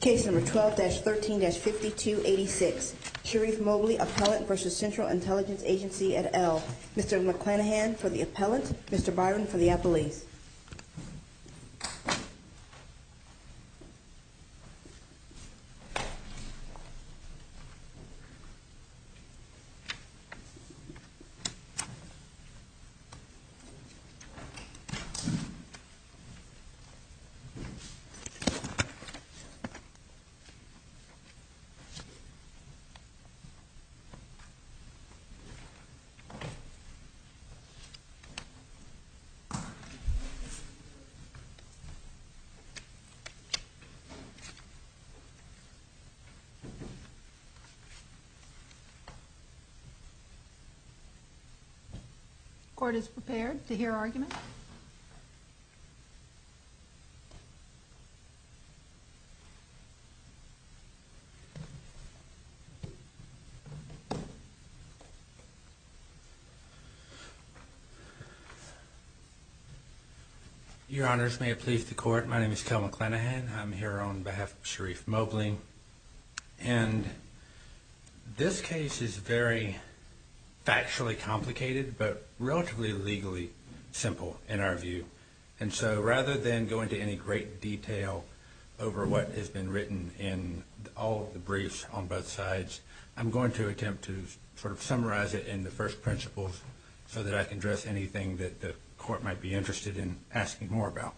Case number 12-13-5286. Sharif Mobley, Appellant v. Central Intelligence Agency et al. Mr. McClanahan for the Appellant, Mr. Byron for the Appellees. The Your Honors, may it please the Court, my name is Kel McClanahan. I'm here on behalf of Sharif Mobley. And this case is very factually complicated, but relatively legally simple in our view. And so rather than go into any great detail over what has been written in all of the briefs on both sides, I'm going to attempt to sort of summarize it in the first principles, so that I can address anything that the Court might be interested in asking more about.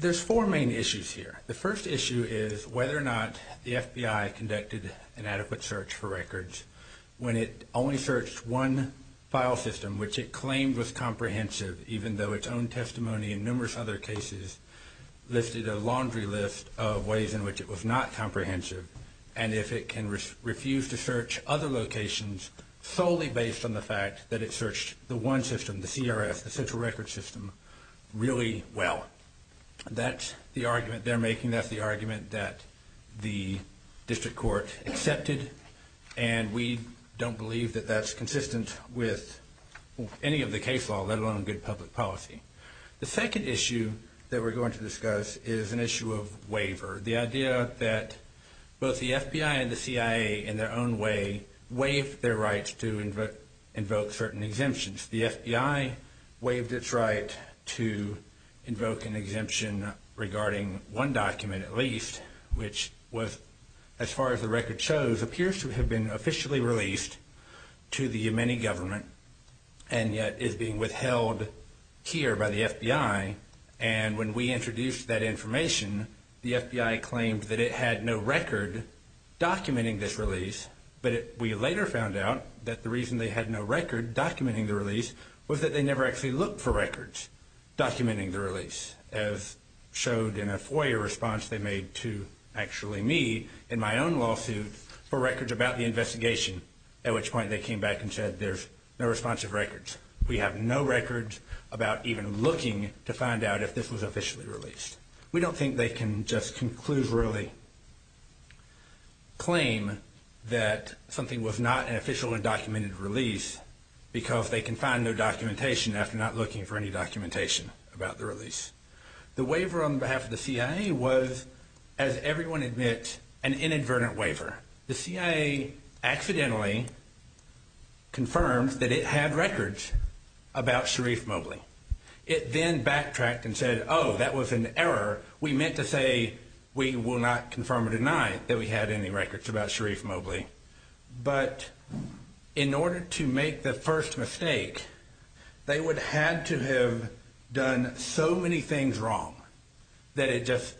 There's four main issues here. The first issue is whether or not the FBI conducted an adequate search for records when it only searched one file system which it claimed was comprehensive, even though its own testimony in numerous other cases listed a laundry list of ways in which it was not comprehensive. And if it can refuse to search other locations solely based on the fact that it searched the one system, the CRS, the Central Records System, really well. That's the argument they're making. That's the argument that the District Court accepted. And we don't believe that that's consistent with any of the case law, let alone good public policy. The second issue that we're going to discuss is an issue of waiver, the idea that both the FBI and the CIA in their own way waived their rights to invoke certain exemptions. The FBI waived its right to invoke an exemption regarding one document at least, which was, as far as the record shows, appears to have been officially released to the Yemeni government and yet is being withheld here by the FBI. And when we introduced that information, the FBI claimed that it had no record documenting this release, but we later found out that the reason they had no record documenting the release was that they never actually looked for records documenting the release, as showed in a FOIA response they made to actually me in my own lawsuit for records about the investigation, at which point they came back and said there's no responsive records. We have no records about even looking to find out if this was officially released. We don't think they can just conclusively claim that something was not an officially documented release because they can find their documentation after not looking for any documentation about the release. The waiver on behalf of the CIA was, as everyone admits, an inadvertent waiver. The CIA accidentally confirmed that it had records about Sharif Mowgli. It then backtracked and said, oh, that was an error. We meant to say we will not confirm or deny that we had any records about Sharif Mowgli. But in order to make the first mistake, they would have to have done so many things wrong that it just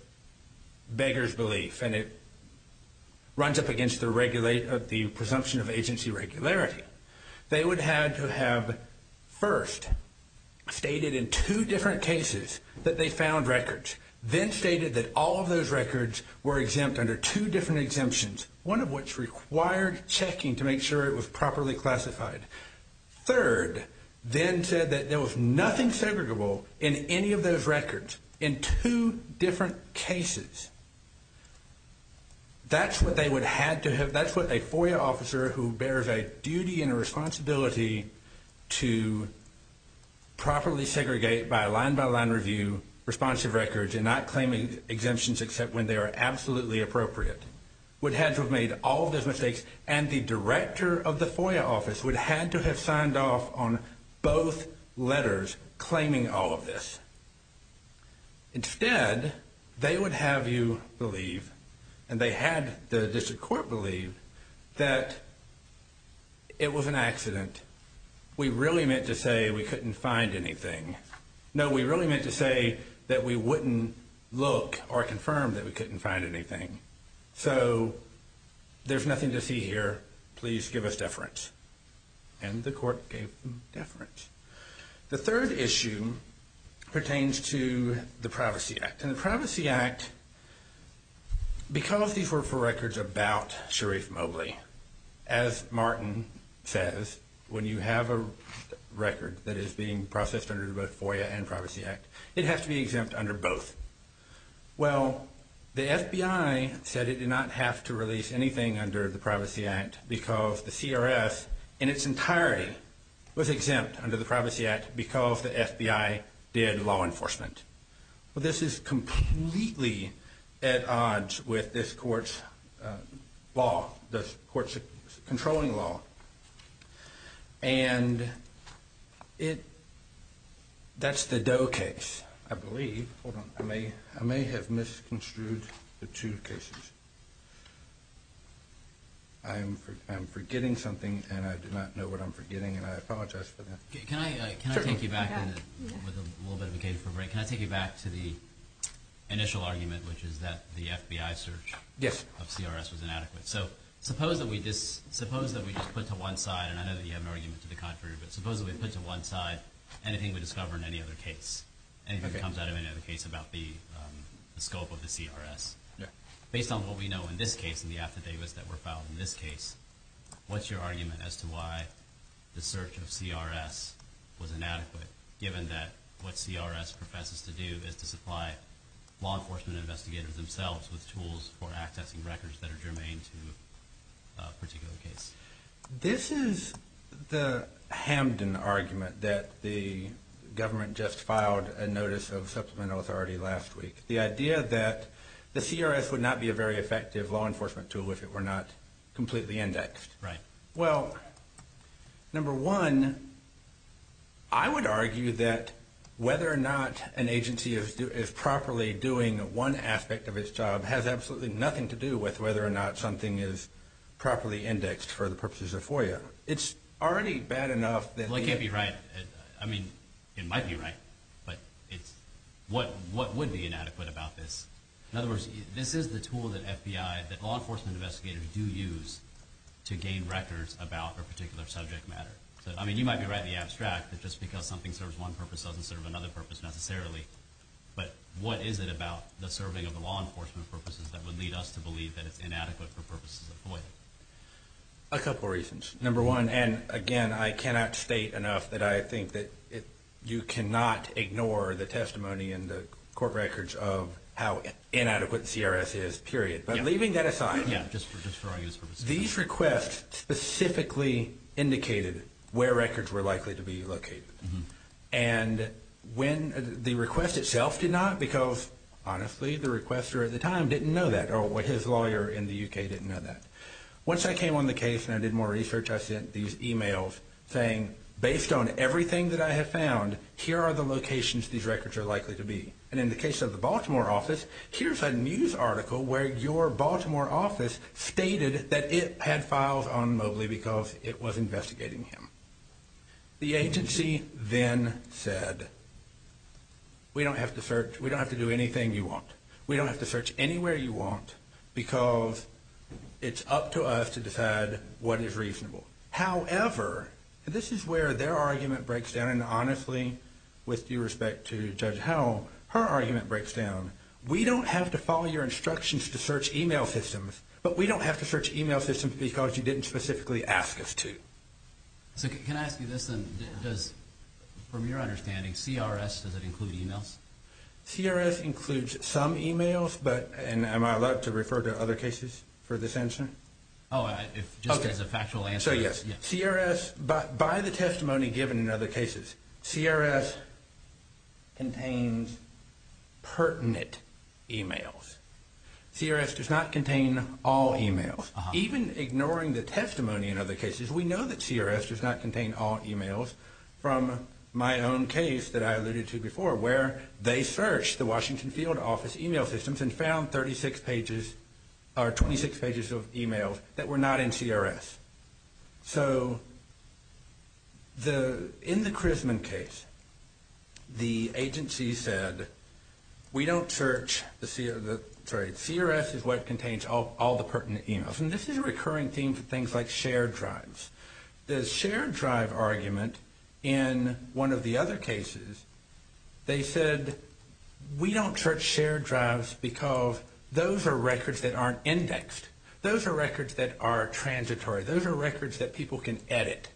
beggars belief and it runs up against the presumption of agency regularity. They would have to have first stated in two different cases that they found records, then stated that all of those records were exempt under two different exemptions, one of which required checking to make sure it was properly classified. Third, then said that there was nothing segregable in any of those records in two different cases. That's what a FOIA officer who bears a duty and a responsibility to properly segregate by line-by-line review responsive records and not claim exemptions except when they are absolutely appropriate would have to have made all of those mistakes. And the director of the FOIA office would have to have signed off on both letters claiming all of this. Instead, they would have you believe, and they had the district court believe, that it was an accident. We really meant to say we couldn't find anything. No, we really meant to say that we wouldn't look or confirm that we couldn't find anything. So there's nothing to see here. Please give us deference. And the court gave them deference. The third issue pertains to the Privacy Act. And the Privacy Act, because these were for records about Sharif Mowgli, as Martin says, when you have a record that is being processed under both FOIA and Privacy Act, it has to be exempt under both. Well, the FBI said it did not have to release anything under the Privacy Act because the CRS in its entirety was exempt under the Privacy Act because the FBI did law enforcement. Well, this is completely at odds with this court's law, the court's controlling law. And that's the Doe case, I believe. Hold on. I may have misconstrued the two cases. I'm forgetting something, and I do not know what I'm forgetting, and I apologize for that. Can I take you back with a little bit of a break? Can I take you back to the initial argument, which is that the FBI search of CRS was inadequate? Yes. So suppose that we just put to one side, and I know that you have an argument to the contrary, but suppose that we put to one side anything we discover in any other case, anything that comes out of any other case about the scope of the CRS. Based on what we know in this case, in the affidavits that were filed in this case, what's your argument as to why the search of CRS was inadequate, given that what CRS professes to do is to supply law enforcement investigators themselves with tools for accessing records that are germane to a particular case? This is the Hamden argument that the government just filed a notice of supplemental authority last week. The idea that the CRS would not be a very effective law enforcement tool if it were not completely indexed. Right. Well, number one, I would argue that whether or not an agency is properly doing one aspect of its job has absolutely nothing to do with whether or not something is properly indexed for the purposes of FOIA. It's already bad enough that... Well, it can't be right. I mean, it might be right, but what would be inadequate about this? In other words, this is the tool that FBI, that law enforcement investigators do use to gain records about a particular subject matter. I mean, you might be right in the abstract that just because something serves one purpose doesn't serve another purpose necessarily, but what is it about the serving of the law enforcement purposes that would lead us to believe that it's inadequate for purposes of FOIA? A couple reasons. Number one, and again, I cannot state enough that I think that you cannot ignore the testimony in the court records of how inadequate CRS is, period. But leaving that aside, these requests specifically indicated where records were likely to be located. And when the request itself did not because, honestly, the requester at the time didn't know that or his lawyer in the U.K. didn't know that. Once I came on the case and I did more research, I sent these emails saying, based on everything that I have found, here are the locations these records are likely to be. And in the case of the Baltimore office, here's a news article where your Baltimore office stated that it had files on Mobley because it was investigating him. The agency then said, we don't have to do anything you want. We don't have to search anywhere you want because it's up to us to decide what is reasonable. However, this is where their argument breaks down, and honestly, with due respect to Judge Howell, her argument breaks down. We don't have to follow your instructions to search email systems, but we don't have to search email systems because you didn't specifically ask us to. So can I ask you this then? From your understanding, CRS, does it include emails? CRS includes some emails, but am I allowed to refer to other cases for this answer? Oh, just as a factual answer. So, yes. CRS, by the testimony given in other cases, CRS contains pertinent emails. CRS does not contain all emails. Even ignoring the testimony in other cases, we know that CRS does not contain all emails from my own case that I alluded to before where they searched the Washington Field Office email systems and found 26 pages of emails that were not in CRS. So in the Crisman case, the agency said, we don't search the CRS. CRS is what contains all the pertinent emails. And this is a recurring theme for things like shared drives. The shared drive argument in one of the other cases, they said, we don't search shared drives because those are records that aren't indexed. Those are records that are transitory. Those are records that people can edit.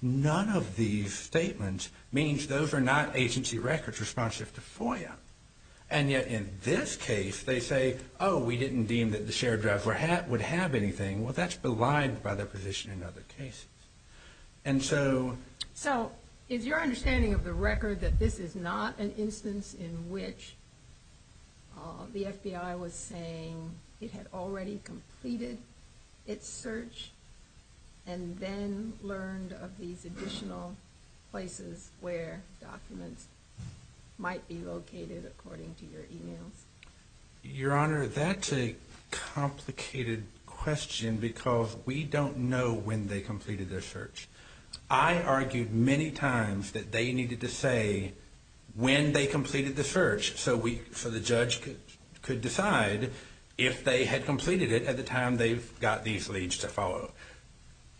None of these statements means those are not agency records responsive to FOIA. And yet in this case, they say, oh, we didn't deem that the shared drives would have anything. Well, that's belied by their position in other cases. So is your understanding of the record that this is not an instance in which the FBI was saying it had already completed its search and then learned of these additional places where documents might be located according to your emails? Your Honor, that's a complicated question because we don't know when they completed their search. I argued many times that they needed to say when they completed the search so the judge could decide if they had completed it at the time they got these leads to follow.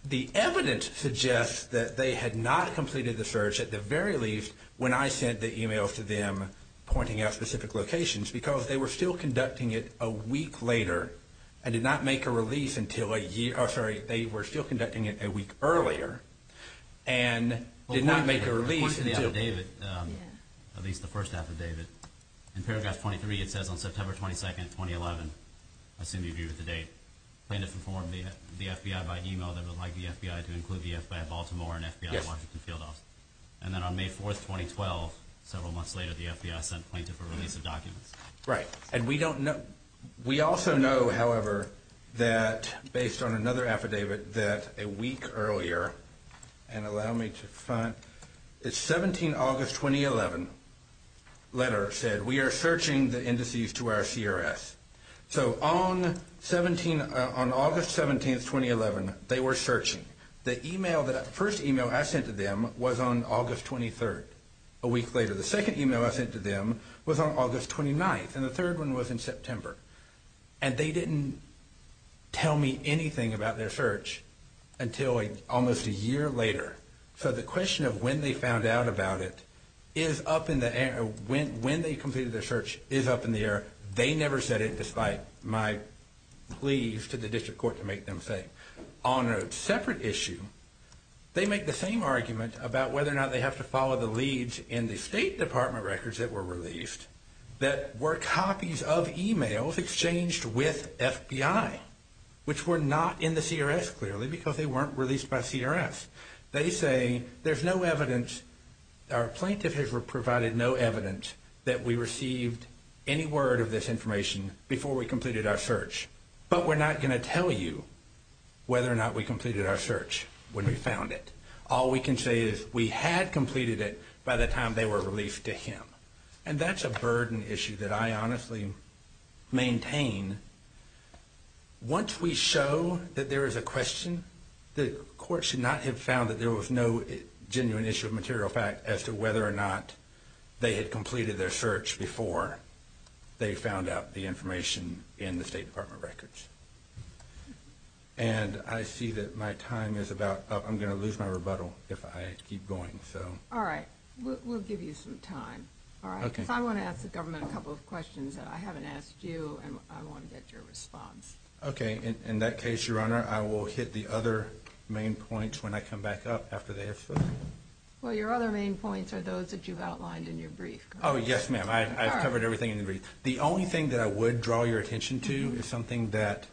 The evidence suggests that they had not completed the search at the very least when I sent the emails to them pointing out specific locations because they were still conducting it a week later and did not make a release until a year – oh, sorry, they were still conducting it a week earlier and did not make a release until – Point to the affidavit, at least the first affidavit. In paragraph 23, it says on September 22, 2011, I assume you agree with the date, plan to inform the FBI by email that would like the FBI to include the FBI in Baltimore and FBI Washington field office. And then on May 4, 2012, several months later, the FBI sent plaintiff a release of documents. Right, and we don't know – we also know, however, that based on another affidavit that a week earlier and allow me to find – it's 17 August, 2011, letter said, we are searching the indices to our CRS. So on August 17, 2011, they were searching. The email that – the first email I sent to them was on August 23rd, a week later. The second email I sent to them was on August 29th, and the third one was in September. And they didn't tell me anything about their search until almost a year later. So the question of when they found out about it is up in the air – when they completed their search is up in the air. They never said it despite my pleas to the district court to make them say. On a separate issue, they make the same argument about whether or not they have to follow the leads in the State Department records that were released that were copies of emails exchanged with FBI, which were not in the CRS clearly because they weren't released by CRS. They say there's no evidence – our plaintiff has provided no evidence that we received any word of this information before we completed our search. But we're not going to tell you whether or not we completed our search when we found it. All we can say is we had completed it by the time they were released to him. And that's a burden issue that I honestly maintain. Once we show that there is a question, the court should not have found that there was no genuine issue of material fact as to whether or not they had completed their search before they found out the information in the State Department records. And I see that my time is about up. I'm going to lose my rebuttal if I keep going. All right. We'll give you some time. Because I want to ask the government a couple of questions that I haven't asked you, and I want to get your response. Okay. In that case, Your Honor, I will hit the other main points when I come back up after they have finished. Well, your other main points are those that you've outlined in your brief. Oh, yes, ma'am. I've covered everything in the brief. The only thing that I would draw your attention to is something that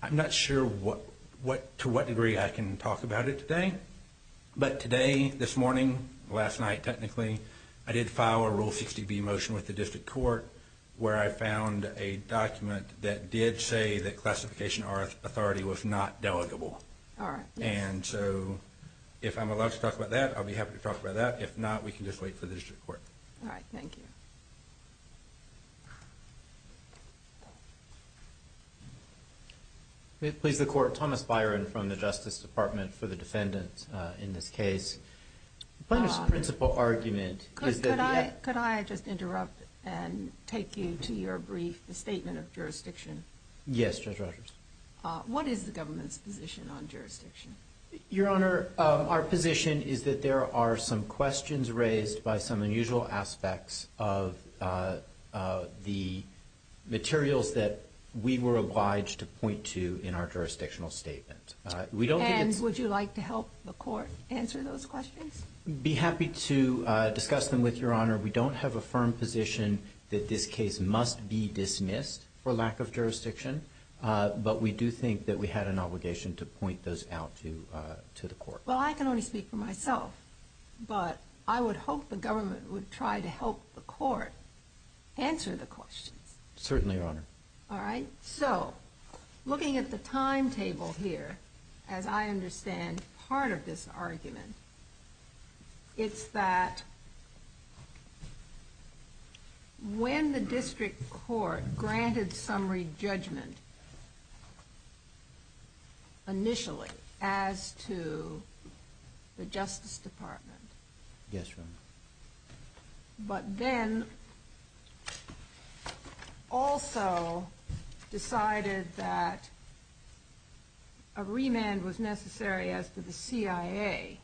I'm not sure to what degree I can talk about it today. But today, this morning, last night technically, I did file a Rule 60B motion with the district court where I found a document that did say that classification authority was not delegable. All right. And so if I'm allowed to talk about that, I'll be happy to talk about that. If not, we can just wait for the district court. All right. Thank you. May it please the Court, Thomas Byron from the Justice Department for the defendant in this case. The plaintiff's principal argument is that- Could I just interrupt and take you to your brief, the statement of jurisdiction? Yes, Judge Rogers. What is the government's position on jurisdiction? Your Honor, our position is that there are some questions raised by some unusual aspects of the materials that we were obliged to point to in our jurisdictional statement. And would you like to help the court answer those questions? I'd be happy to discuss them with your Honor. We don't have a firm position that this case must be dismissed for lack of jurisdiction, but we do think that we had an obligation to point those out to the court. Well, I can only speak for myself, but I would hope the government would try to help the court answer the questions. Certainly, Your Honor. All right. So, looking at the timetable here, as I understand part of this argument, it's that when the district court granted summary judgment initially as to the Justice Department- Yes, Your Honor. but then also decided that a remand was necessary as to the CIA,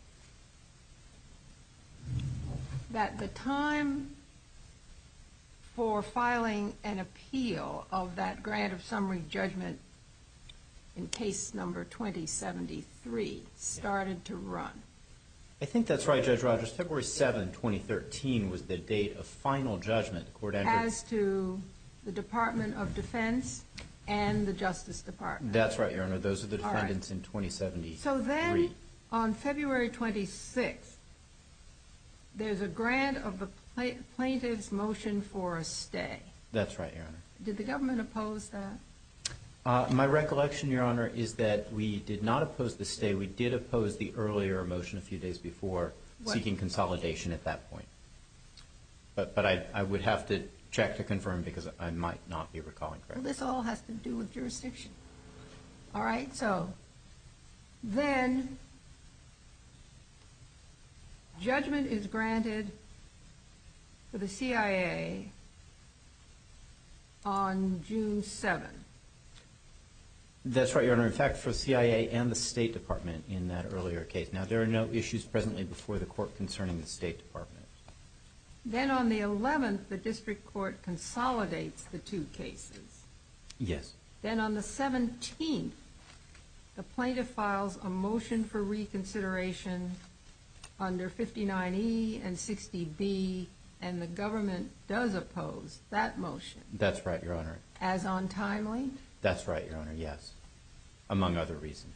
that the time for filing an appeal of that grant of summary judgment in case number 2073 started to run. I think that's right, Judge Rogers. February 7, 2013 was the date of final judgment. As to the Department of Defense and the Justice Department. That's right, Your Honor. Those are the defendants in 2073. So then, on February 26th, there's a grant of the plaintiff's motion for a stay. That's right, Your Honor. Did the government oppose that? My recollection, Your Honor, is that we did not oppose the stay. We did oppose the earlier motion a few days before, seeking consolidation at that point. But I would have to check to confirm because I might not be recalling correctly. Well, this all has to do with jurisdiction. All right. So, then, judgment is granted for the CIA on June 7. That's right, Your Honor. In fact, for CIA and the State Department in that earlier case. Now, there are no issues presently before the court concerning the State Department. Then, on the 11th, the district court consolidates the two cases. Yes. Then, on the 17th, the plaintiff files a motion for reconsideration under 59E and 60B, and the government does oppose that motion. That's right, Your Honor. As on timely? That's right, Your Honor. Yes. Among other reasons.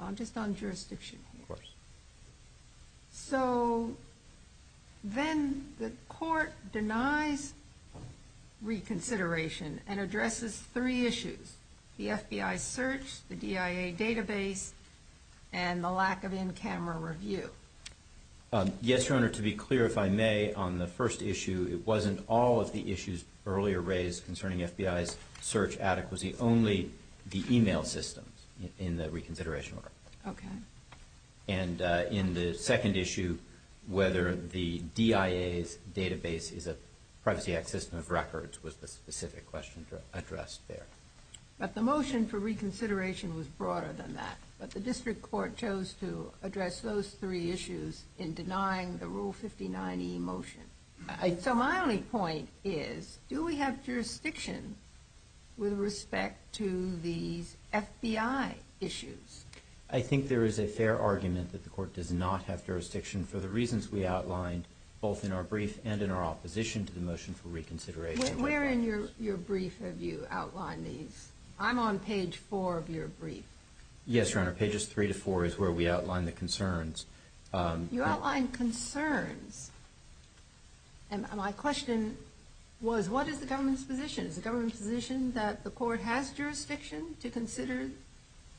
I'm just on jurisdiction here. Of course. So, then, the court denies reconsideration and addresses three issues. The FBI search, the DIA database, and the lack of in-camera review. Yes, Your Honor. To be clear, if I may, on the first issue, it wasn't all of the issues earlier raised concerning FBI's search adequacy. Only the email systems in the reconsideration work. Okay. And in the second issue, whether the DIA's database is a Privacy Act system of records was the specific question addressed there. But the motion for reconsideration was broader than that. But the district court chose to address those three issues in denying the Rule 59E motion. So, my only point is, do we have jurisdiction with respect to these FBI issues? I think there is a fair argument that the court does not have jurisdiction for the reasons we outlined both in our brief and in our opposition to the motion for reconsideration. Where in your brief have you outlined these? I'm on page 4 of your brief. Yes, Your Honor. Pages 3 to 4 is where we outlined the concerns. You outlined concerns. And my question was, what is the government's position? Is the government's position that the court has jurisdiction to consider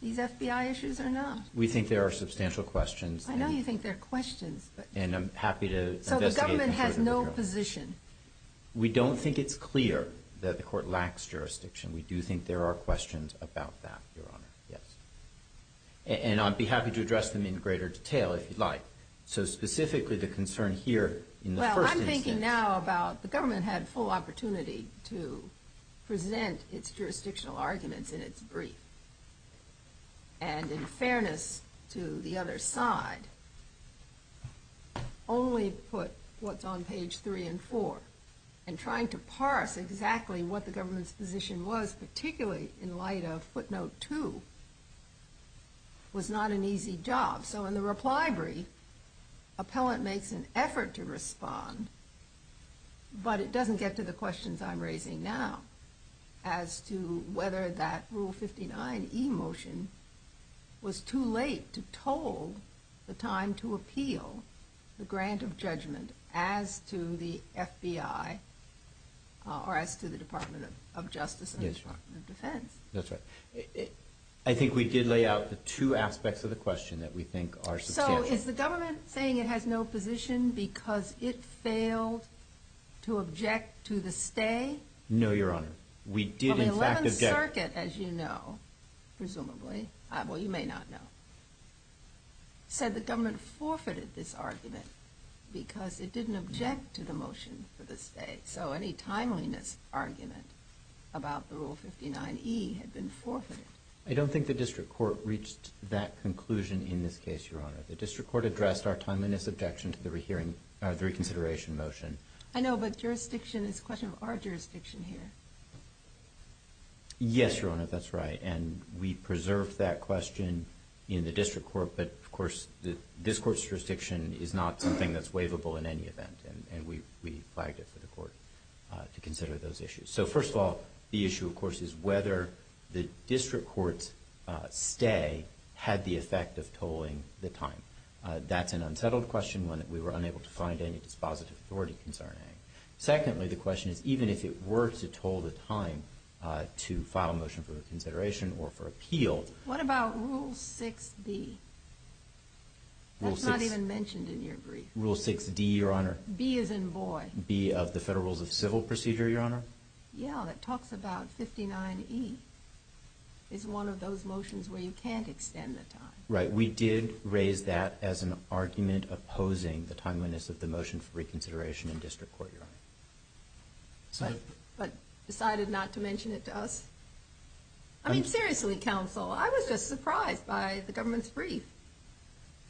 these FBI issues or not? We think there are substantial questions. I know you think there are questions. And I'm happy to investigate them further. So, the government has no position? We don't think it's clear that the court lacks jurisdiction. We do think there are questions about that, Your Honor. Yes. And I'd be happy to address them in greater detail if you'd like. So, specifically the concern here in the first instance. Well, I'm thinking now about the government had full opportunity to present its jurisdictional arguments in its brief. And in fairness to the other side, only put what's on page 3 and 4. And trying to parse exactly what the government's position was, particularly in light of footnote 2, was not an easy job. So, in the reply brief, appellant makes an effort to respond, but it doesn't get to the questions I'm raising now. As to whether that Rule 59e motion was too late to toll the time to appeal the grant of judgment as to the FBI or as to the Department of Justice and the Department of Defense. That's right. I think we did lay out the two aspects of the question that we think are substantial. So, is the government saying it has no position because it failed to object to the stay? No, Your Honor. Well, the 11th Circuit, as you know, presumably, well, you may not know, said the government forfeited this argument because it didn't object to the motion for the stay. So, any timeliness argument about the Rule 59e had been forfeited. I don't think the district court reached that conclusion in this case, Your Honor. The district court addressed our timeliness objection to the reconsideration motion. I know, but jurisdiction is a question of our jurisdiction here. Yes, Your Honor, that's right. And we preserved that question in the district court, but, of course, the district court's jurisdiction is not something that's waivable in any event. And we flagged it for the court to consider those issues. So, first of all, the issue, of course, is whether the district court's stay had the effect of tolling the time. That's an unsettled question when we were unable to find any dispositive authority concerning it. Secondly, the question is even if it were to toll the time to file a motion for reconsideration or for appeal. What about Rule 6d? That's not even mentioned in your brief. Rule 6d, Your Honor. B as in boy. B of the Federal Rules of Civil Procedure, Your Honor. Yeah, that talks about 59e is one of those motions where you can't extend the time. Right, we did raise that as an argument opposing the timeliness of the motion for reconsideration in district court, Your Honor. But decided not to mention it to us? I mean, seriously, counsel, I was just surprised by the government's brief.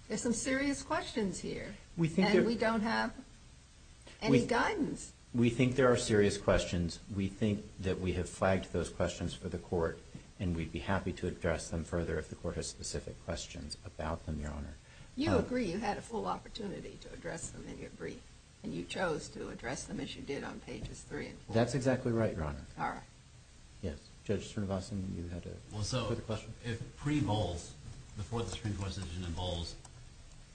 There's some serious questions here, and we don't have any guidance. We think there are serious questions. We think that we have flagged those questions for the court, and we'd be happy to address them further if the court has specific questions about them, Your Honor. You agree you had a full opportunity to address them in your brief, and you chose to address them as you did on pages 3 and 4. That's exactly right, Your Honor. All right. Yes, Judge Srinivasan, you had a quick question? Well, so if pre-Bowles, before the Supreme Court's decision in Bowles,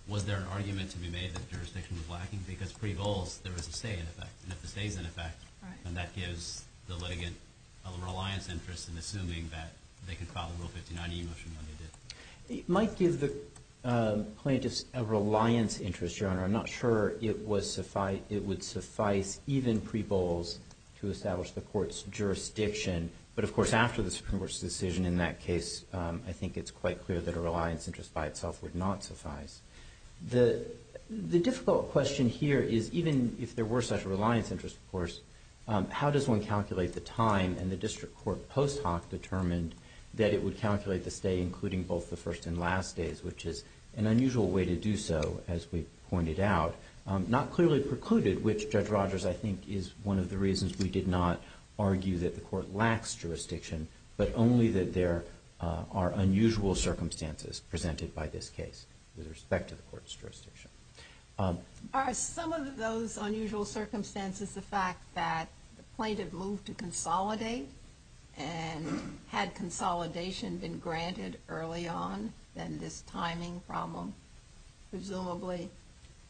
was there an argument to be made that jurisdiction was lacking? Because pre-Bowles, there was a stay in effect. And if the stay's in effect, then that gives the litigant a reliance interest in assuming that they could file a Rule 59e motion when they did. It might give the plaintiffs a reliance interest, Your Honor. I'm not sure it would suffice even pre-Bowles to establish the court's jurisdiction. But, of course, after the Supreme Court's decision in that case, I think it's quite clear that a reliance interest by itself would not suffice. The difficult question here is, even if there were such a reliance interest, of course, how does one calculate the time? And the district court post hoc determined that it would calculate the stay, including both the first and last days, which is an unusual way to do so, as we pointed out. Not clearly precluded, which, Judge Rogers, I think is one of the reasons we did not argue that the court lacks jurisdiction, but only that there are unusual circumstances presented by this case with respect to the court's jurisdiction. Are some of those unusual circumstances the fact that the plaintiff moved to consolidate? And had consolidation been granted early on, then this timing problem presumably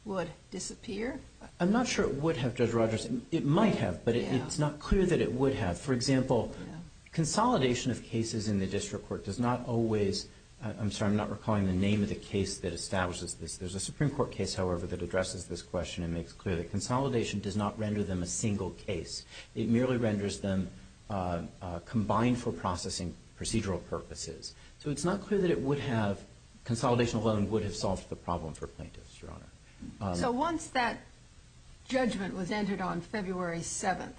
would disappear? I'm not sure it would have, Judge Rogers. It might have, but it's not clear that it would have. For example, consolidation of cases in the district court does not always – I'm sorry, I'm not recalling the name of the case that establishes this. There's a Supreme Court case, however, that addresses this question and makes clear that consolidation does not render them a single case. It merely renders them combined for processing procedural purposes. So it's not clear that it would have – consolidation alone would have solved the problem for plaintiffs, Your Honor. So once that judgment was entered on February 7th,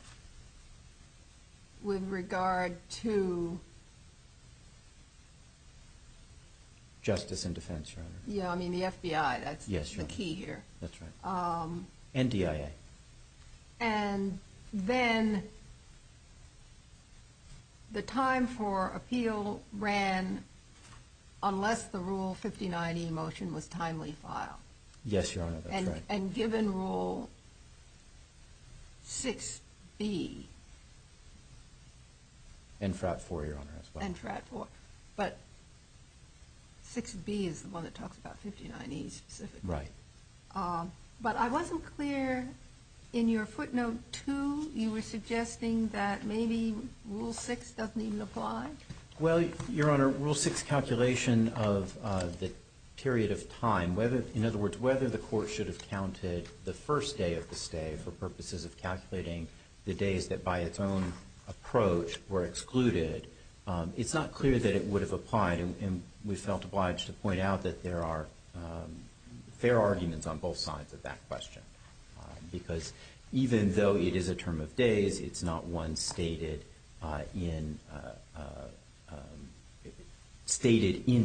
with regard to – Justice and defense, Your Honor. Yeah, I mean the FBI. That's the key here. That's right. And DIA. And then the time for appeal ran unless the Rule 59e motion was timely filed. Yes, Your Honor, that's right. And given Rule 6b. And FRAT 4, Your Honor, as well. And FRAT 4. But 6b is the one that talks about 59e specifically. Right. But I wasn't clear in your footnote 2. You were suggesting that maybe Rule 6 doesn't even apply? Well, Your Honor, Rule 6 calculation of the period of time. In other words, whether the court should have counted the first day of the stay for purposes of calculating the days that by its own approach were excluded. It's not clear that it would have applied. And we felt obliged to point out that there are fair arguments on both sides of that question. Because even though it is a term of days, it's not one stated in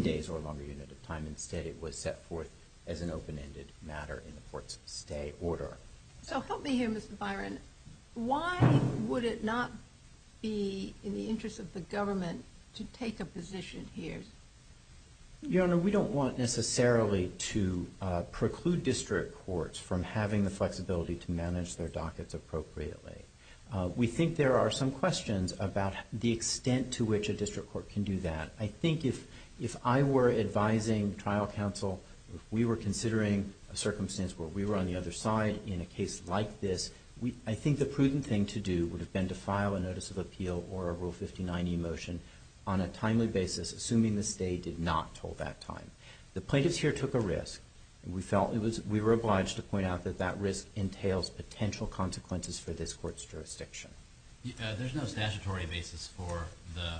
days or a longer unit of time. Instead, it was set forth as an open-ended matter in the court's stay order. So help me here, Mr. Byron. Why would it not be in the interest of the government to take a position here? Your Honor, we don't want necessarily to preclude district courts from having the flexibility to manage their dockets appropriately. We think there are some questions about the extent to which a district court can do that. I think if I were advising trial counsel, if we were considering a circumstance where we were on the other side in a case like this, I think the prudent thing to do would have been to file a notice of appeal or a Rule 59e motion on a timely basis, assuming the state did not hold that time. The plaintiffs here took a risk. We felt we were obliged to point out that that risk entails potential consequences for this court's jurisdiction. There's no statutory basis for the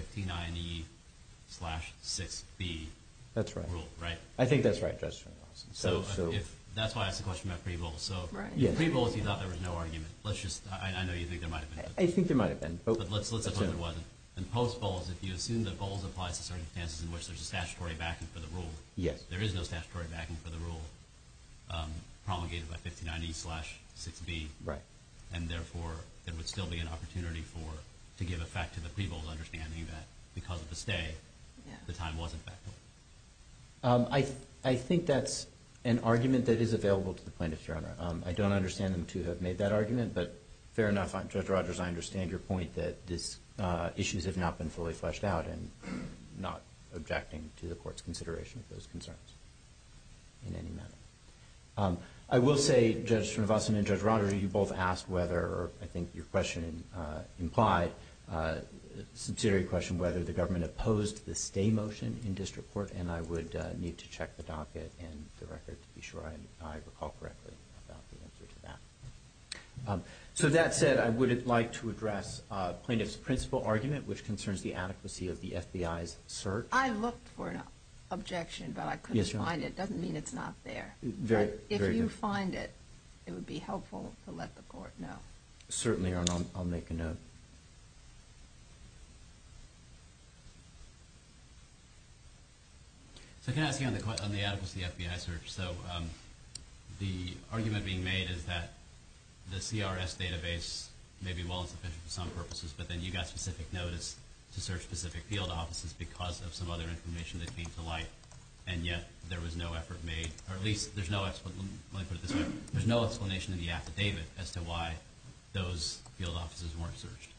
59e-6b rule, right? I think that's right, Judge. That's why I asked the question about pre-bowls. In pre-bowls, you thought there was no argument. I know you think there might have been. I think there might have been. But let's assume there wasn't. In post-bowls, if you assume that bowls apply to circumstances in which there's a statutory backing for the rule, there is no statutory backing for the rule promulgated by 59e-6b, and therefore there would still be an opportunity to give effect to the pre-bowls, understanding that because of the stay, the time wasn't backed up. I think that's an argument that is available to the plaintiffs, Your Honor. I don't understand them to have made that argument. But fair enough. Judge Rogers, I understand your point that these issues have not been fully fleshed out and I'm not objecting to the court's consideration of those concerns in any manner. I will say, Judge Srinivasan and Judge Rogers, you both asked whether, I think your question implied, whether the government opposed the stay motion in district court, and I would need to check the docket and the record to be sure I recall correctly about the answer to that. So that said, I would like to address plaintiff's principal argument, which concerns the adequacy of the FBI's search. I looked for an objection, but I couldn't find it. It doesn't mean it's not there. Very good. But if you find it, it would be helpful to let the court know. Certainly, Your Honor. I'll make a note. So can I ask you on the adequacy of the FBI search? So the argument being made is that the CRS database may be well insufficient for some purposes, but then you got specific notice to search specific field offices because of some other information that came to light, and yet there was no effort made, or at least there's no explanation, let me put it this way, there's no explanation in the affidavit as to why those field offices weren't searched.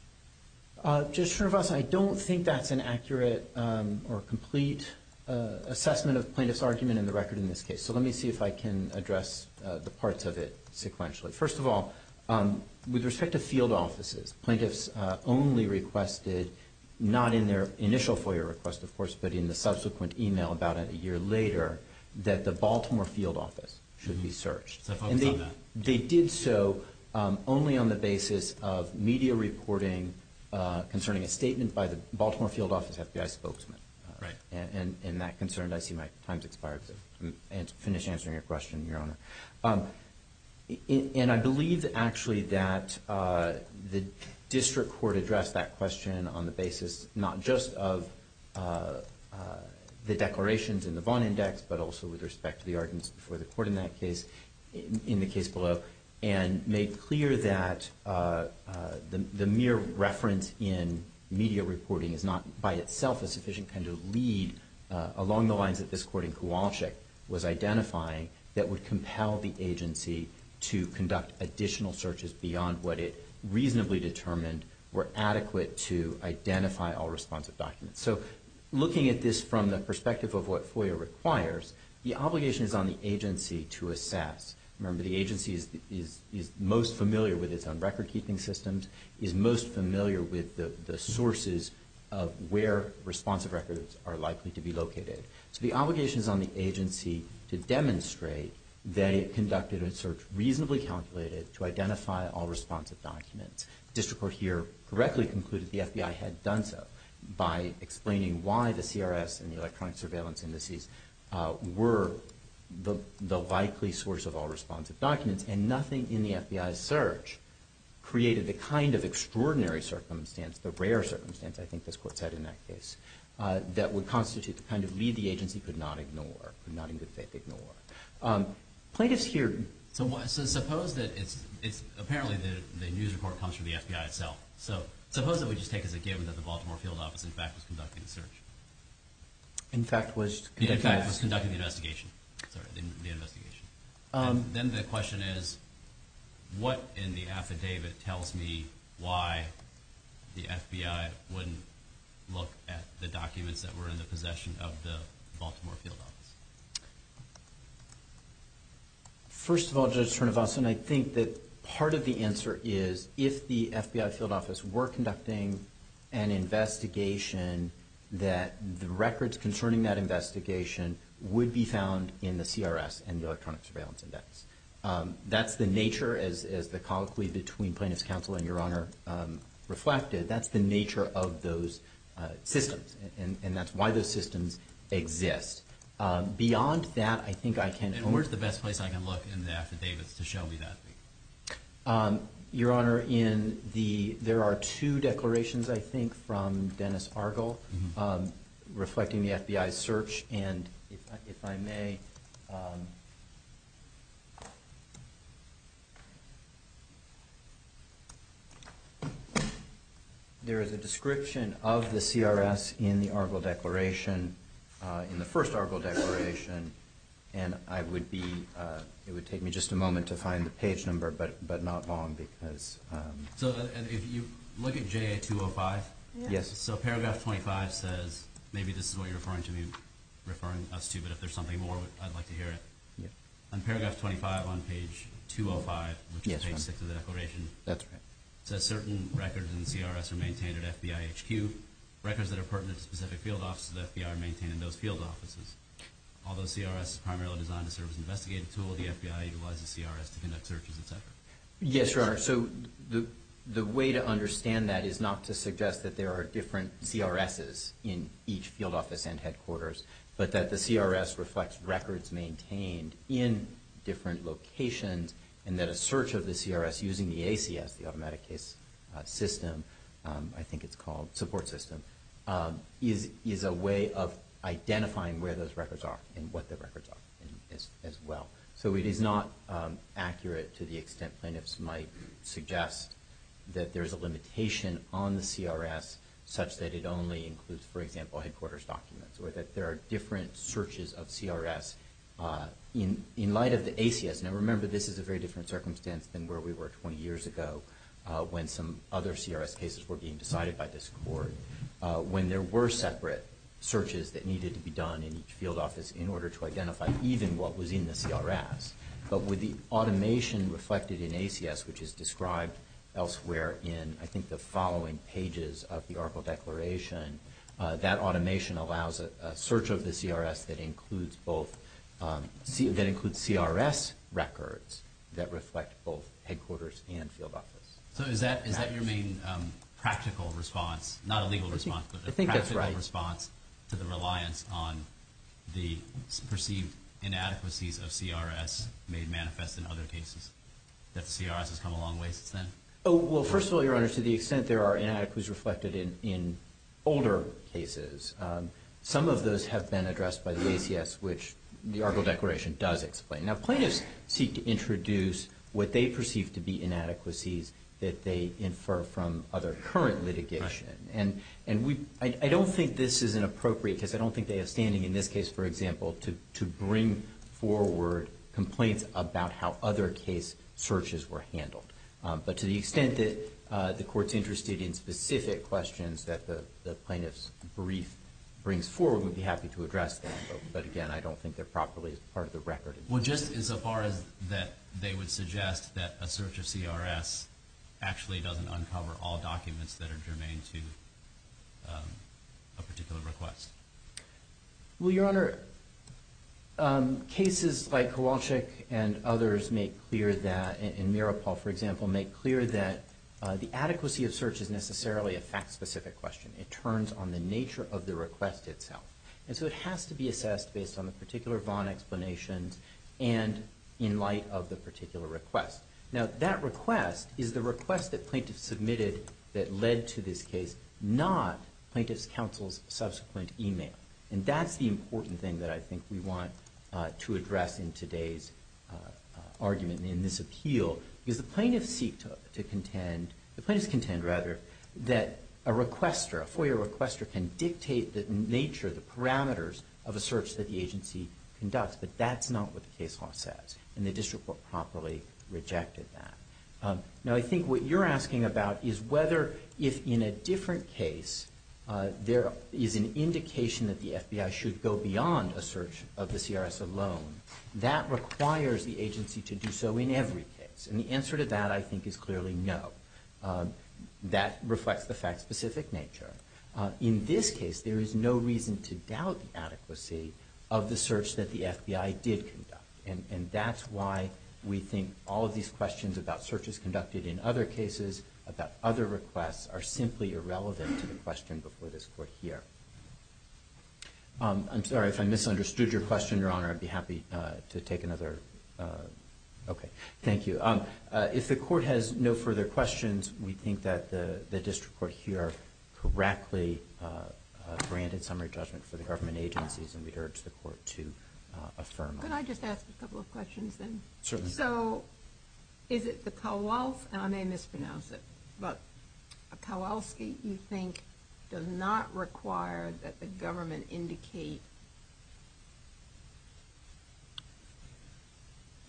Judge Cernovasti, I don't think that's an accurate or complete assessment of plaintiff's argument in the record in this case. So let me see if I can address the parts of it sequentially. First of all, with respect to field offices, plaintiffs only requested, not in their initial FOIA request, of course, but in the subsequent email about it a year later, that the Baltimore field office should be searched. So focus on that. They did so only on the basis of media reporting concerning a statement by the Baltimore field office FBI spokesman. Right. And that concerned, I see my time's expired, so I'll finish answering your question, Your Honor. And I believe, actually, that the district court addressed that question on the basis not just of the declarations in the Vaughn Index, but also with respect to the arguments before the court in that case, in the case below, and made clear that the mere reference in media reporting is not, by itself, a sufficient kind of lead along the lines that this court in Kowalczyk was identifying that would compel the agency to conduct additional searches beyond what it reasonably determined were adequate to identify all responsive documents. So looking at this from the perspective of what FOIA requires, the obligation is on the agency to assess. Remember, the agency is most familiar with its own record-keeping systems, is most familiar with the sources of where responsive records are likely to be located. So the obligation is on the agency to demonstrate that it conducted a search reasonably calculated to identify all responsive documents. The district court here correctly concluded the FBI had done so by explaining why the CRS and the electronic surveillance indices were the likely source of all responsive documents, and nothing in the FBI's search created the kind of extraordinary circumstance, the rare circumstance, I think this court said in that case, that would constitute the kind of lead the agency could not ignore, could not in good faith ignore. Plaintiffs here... So suppose that it's apparently the news report comes from the FBI itself. So suppose that we just take as a given that the Baltimore Field Office in fact was conducting the search. In fact was... In fact was conducting the investigation. Sorry, the investigation. Then the question is, what in the affidavit tells me why the FBI wouldn't look at the documents that were in the possession of the Baltimore Field Office? First of all, Judge Trinovason, I think that part of the answer is, if the FBI Field Office were conducting an investigation, that the records concerning that investigation would be found in the CRS and the electronic surveillance index. That's the nature, as the colloquy between plaintiffs' counsel and Your Honor reflected, that's the nature of those systems. And that's why those systems exist. Beyond that, I think I can only... And where's the best place I can look in the affidavits to show me that? Your Honor, in the... There are two declarations, I think, from Dennis Argel, reflecting the FBI's search. And if I may... There is a description of the CRS in the Argel Declaration, in the first Argel Declaration. And I would be... It would take me just a moment to find the page number, but not long because... So if you look at JA-205? Yes. So paragraph 25 says... Maybe this is what you're referring to me, referring us to, but if there's something more, I'd like to hear it. On paragraph 25 on page 205, which is page 6 of the declaration... That's right. It says, certain records in the CRS are maintained at FBI HQ. Records that are pertinent to specific field offices of the FBI are maintained in those field offices. Although CRS is primarily designed to serve as an investigative tool, Yes, Your Honor. So the way to understand that is not to suggest that there are different CRSs in each field office and headquarters, but that the CRS reflects records maintained in different locations and that a search of the CRS using the ACS, the automatic case system, I think it's called, support system, is a way of identifying where those records are and what the records are as well. So it is not accurate to the extent plaintiffs might suggest that there's a limitation on the CRS such that it only includes, for example, headquarters documents, or that there are different searches of CRS in light of the ACS. Now remember, this is a very different circumstance than where we were 20 years ago when some other CRS cases were being decided by this Court. When there were separate searches that needed to be done in each field office in order to identify even what was in the CRS. But with the automation reflected in ACS, which is described elsewhere in, I think, the following pages of the article declaration, that automation allows a search of the CRS that includes both CRS records that reflect both headquarters and field offices. So is that your main practical response, not a legal response, but a practical response to the reliance on the perceived inadequacies of CRS made manifest in other cases that the CRS has come a long ways since then? Well, first of all, Your Honor, to the extent there are inadequacies reflected in older cases, some of those have been addressed by the ACS, which the article declaration does explain. Now plaintiffs seek to introduce what they perceive to be inadequacies that they infer from other current litigation. And I don't think this is inappropriate because I don't think they have standing in this case, for example, to bring forward complaints about how other case searches were handled. But to the extent that the Court's interested in specific questions that the plaintiff's brief brings forward, we'd be happy to address that. But again, I don't think they're properly part of the record. Well, just as far as that they would suggest that a search of CRS actually doesn't uncover all documents that are germane to a particular request. Well, Your Honor, cases like Kowalczyk and others make clear that, and Miropol, for example, make clear that the adequacy of search is necessarily a fact-specific question. It turns on the nature of the request itself. And so it has to be assessed based on the particular Vaughan explanations and in light of the particular request. Now, that request is the request that plaintiffs submitted that led to this case, not plaintiffs' counsel's subsequent e-mail. And that's the important thing that I think we want to address in today's argument, in this appeal. Because the plaintiffs seek to contend, the plaintiffs contend, rather, that a requester, a FOIA requester, can dictate the nature, the parameters, of a search that the agency conducts. But that's not what the case law says, and the district court promptly rejected that. Now, I think what you're asking about is whether, if in a different case, there is an indication that the FBI should go beyond a search of the CRS alone, that requires the agency to do so in every case. And the answer to that, I think, is clearly no. That reflects the fact-specific nature. In this case, there is no reason to doubt the adequacy of the search that the FBI did conduct. And that's why we think all of these questions about searches conducted in other cases, about other requests, are simply irrelevant to the question before this court here. I'm sorry if I misunderstood your question, Your Honor. I'd be happy to take another. Okay, thank you. If the court has no further questions, we think that the district court here correctly granted summary judgment for the government agencies, and we urge the court to affirm them. Could I just ask a couple of questions then? Certainly. So, is it the Kowalski, and I may mispronounce it, but a Kowalski, you think, does not require that the government indicate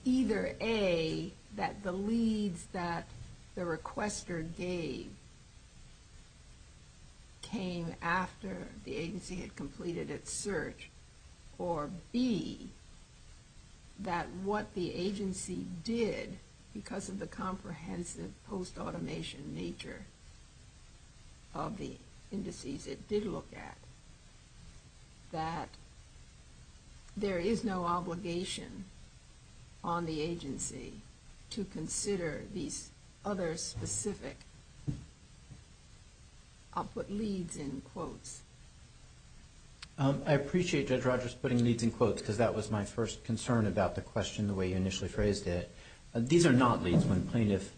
either A, that the leads that the requester gave came after the agency had completed its search, or B, that what the agency did, because of the comprehensive post-automation nature of the indices it did look at, that there is no obligation on the agency to consider these other specific, I'll put leads in quotes. I appreciate Judge Rogers putting leads in quotes, because that was my first concern about the question, the way you initially phrased it. These are not leads when plaintiff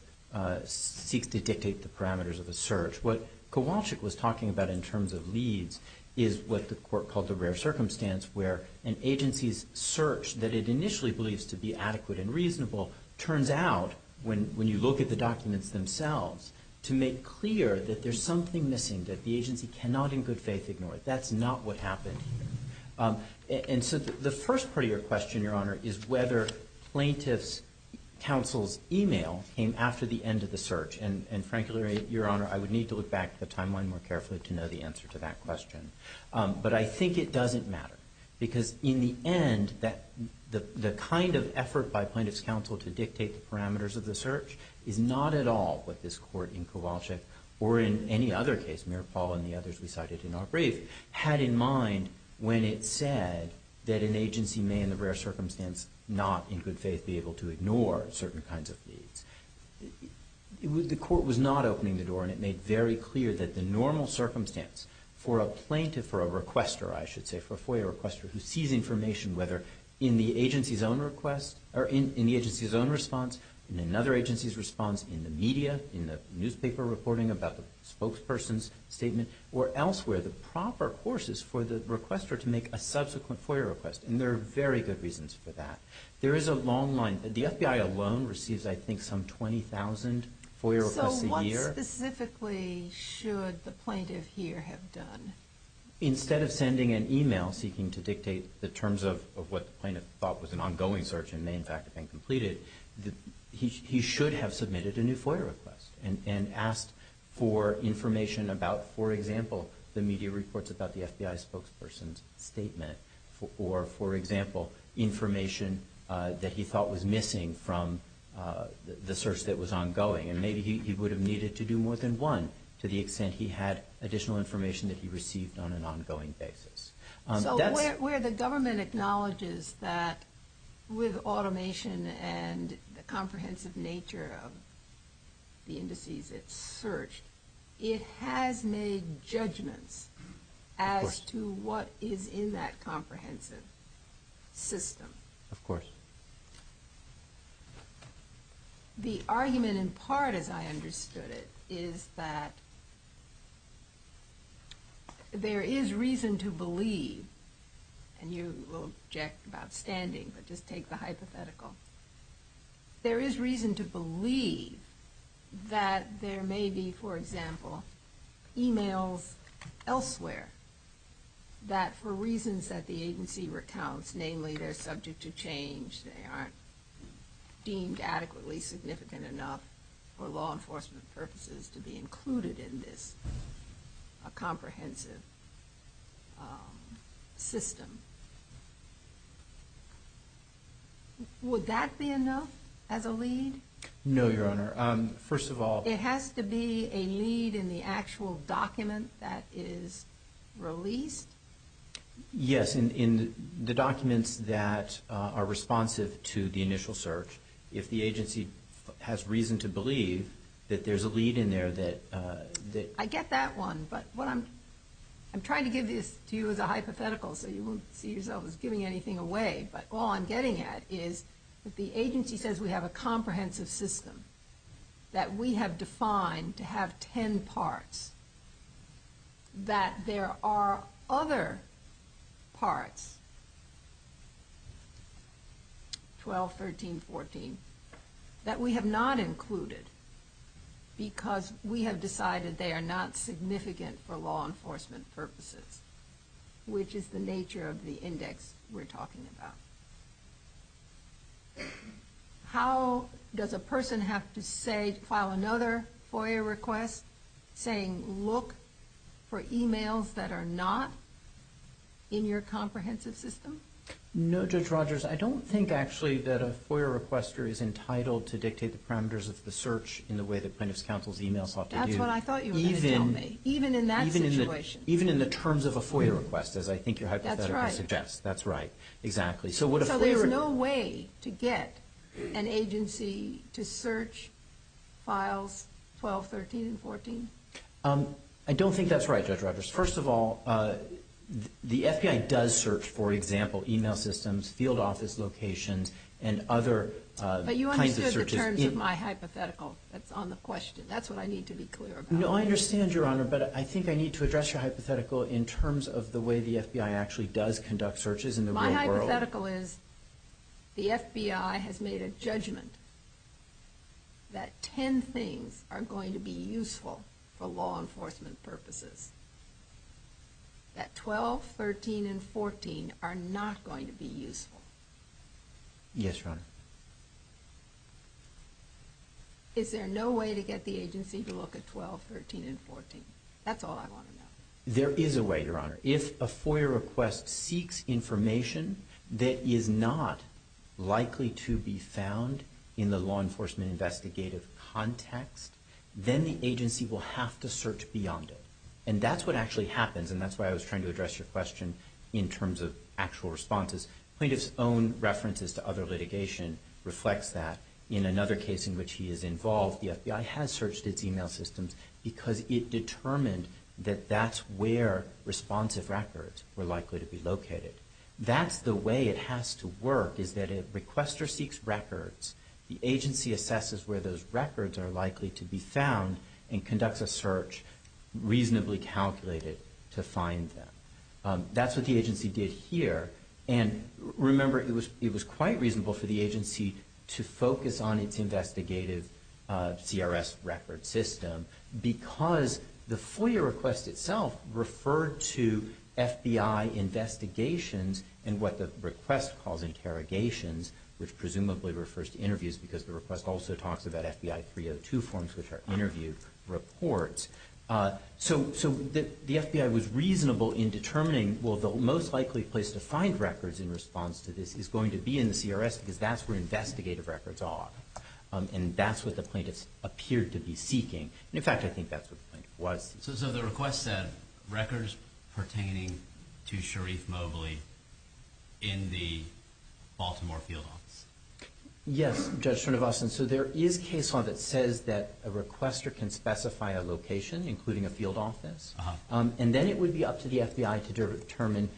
seeks to dictate the parameters of a search. What Kowalski was talking about in terms of leads is what the court called the rare circumstance, where an agency's search that it initially believes to be adequate and reasonable turns out, when you look at the documents themselves, to make clear that there's something missing, that the agency cannot in good faith ignore it. That's not what happened here. And so the first part of your question, Your Honor, is whether plaintiff's counsel's email came after the end of the search. And frankly, Your Honor, I would need to look back at the timeline more carefully to know the answer to that question. But I think it doesn't matter, because in the end, the kind of effort by plaintiff's counsel to dictate the parameters of the search is not at all what this court in Kowalski, or in any other case, mere Paul and the others we cited in our brief, had in mind when it said that an agency may in the rare circumstance not in good faith be able to ignore certain kinds of leads. The court was not opening the door, and it made very clear that the normal circumstance for a plaintiff, for a requester, I should say, for a FOIA requester who sees information, whether in the agency's own request, or in the agency's own response, in another agency's response, in the media, in the newspaper reporting about the spokesperson's statement, or elsewhere, the proper courses for the requester to make a subsequent FOIA request. And there are very good reasons for that. There is a long line. The FBI alone receives, I think, some 20,000 FOIA requests a year. So what specifically should the plaintiff here have done? Instead of sending an email seeking to dictate the terms of what the plaintiff thought was an ongoing search and may in fact have been completed, he should have submitted a new FOIA request and asked for information about, for example, the media reports about the FBI spokesperson's statement, or, for example, information that he thought was missing from the search that was ongoing. And maybe he would have needed to do more than one to the extent he had additional information that he received on an ongoing basis. So where the government acknowledges that with automation and the comprehensive nature of the indices it searched, it has made judgments as to what is in that comprehensive system. Of course. The argument in part, as I understood it, is that there is reason to believe, and you will object about standing, but just take the hypothetical, there is reason to believe that there may be, for example, emails elsewhere that, for reasons that the agency recounts, namely they're subject to change, they aren't deemed adequately significant enough for law enforcement purposes to be included in this comprehensive system. Would that be enough as a lead? No, Your Honor. First of all... It has to be a lead in the actual document that is released? Yes, in the documents that are responsive to the initial search. If the agency has reason to believe that there's a lead in there that... I get that one, but what I'm... I'm trying to give this to you as a hypothetical so you won't see yourself as giving anything away, but all I'm getting at is that the agency says we have a comprehensive system, that we have defined to have ten parts, that there are other parts, 12, 13, 14, that we have not included because we have decided they are not significant for law enforcement purposes, which is the nature of the index we're talking about. How does a person have to file another FOIA request saying, look for emails that are not in your comprehensive system? No, Judge Rogers, I don't think actually that a FOIA requester is entitled to dictate the parameters of the search in the way the plaintiff's counsel's email sought to do. That's what I thought you were going to tell me, even in that situation. Even in the terms of a FOIA request, as I think your hypothetical suggests. That's right. That's right, exactly. So there's no way to get an agency to search files 12, 13, and 14? I don't think that's right, Judge Rogers. First of all, the FBI does search, for example, email systems, field office locations, and other kinds of searches. But you understood the terms of my hypothetical that's on the question. That's what I need to be clear about. No, I understand, Your Honor, but I think I need to address your hypothetical in terms of the way the FBI actually does conduct searches in the real world. My hypothetical is the FBI has made a judgment that ten things are going to be useful for law enforcement purposes, that 12, 13, and 14 are not going to be useful. Yes, Your Honor. Is there no way to get the agency to look at 12, 13, and 14? That's all I want to know. There is a way, Your Honor. If a FOIA request seeks information that is not likely to be found in the law enforcement investigative context, then the agency will have to search beyond it. And that's what actually happens, and that's why I was trying to address your question in terms of actual responses. Plaintiff's own references to other litigation reflects that. In another case in which he is involved, the FBI has searched its email systems because it determined that that's where responsive records were likely to be located. That's the way it has to work, is that if a requester seeks records, the agency assesses where those records are likely to be found and conducts a search reasonably calculated to find them. That's what the agency did here. And remember, it was quite reasonable for the agency to focus on its investigative CRS record system because the FOIA request itself referred to FBI investigations and what the request calls interrogations, which presumably refers to interviews because the request also talks about FBI 302 forms, which are interview reports. So the FBI was reasonable in determining, well, the most likely place to find records in response to this is going to be in the CRS because that's where investigative records are, and that's what the plaintiff appeared to be seeking. In fact, I think that's what the plaintiff was. So the request said records pertaining to Sharif Mobley in the Baltimore field office. Yes, Judge Srinivasan. So there is case law that says that a requester can specify a location, including a field office, and then it would be up to the FBI to determine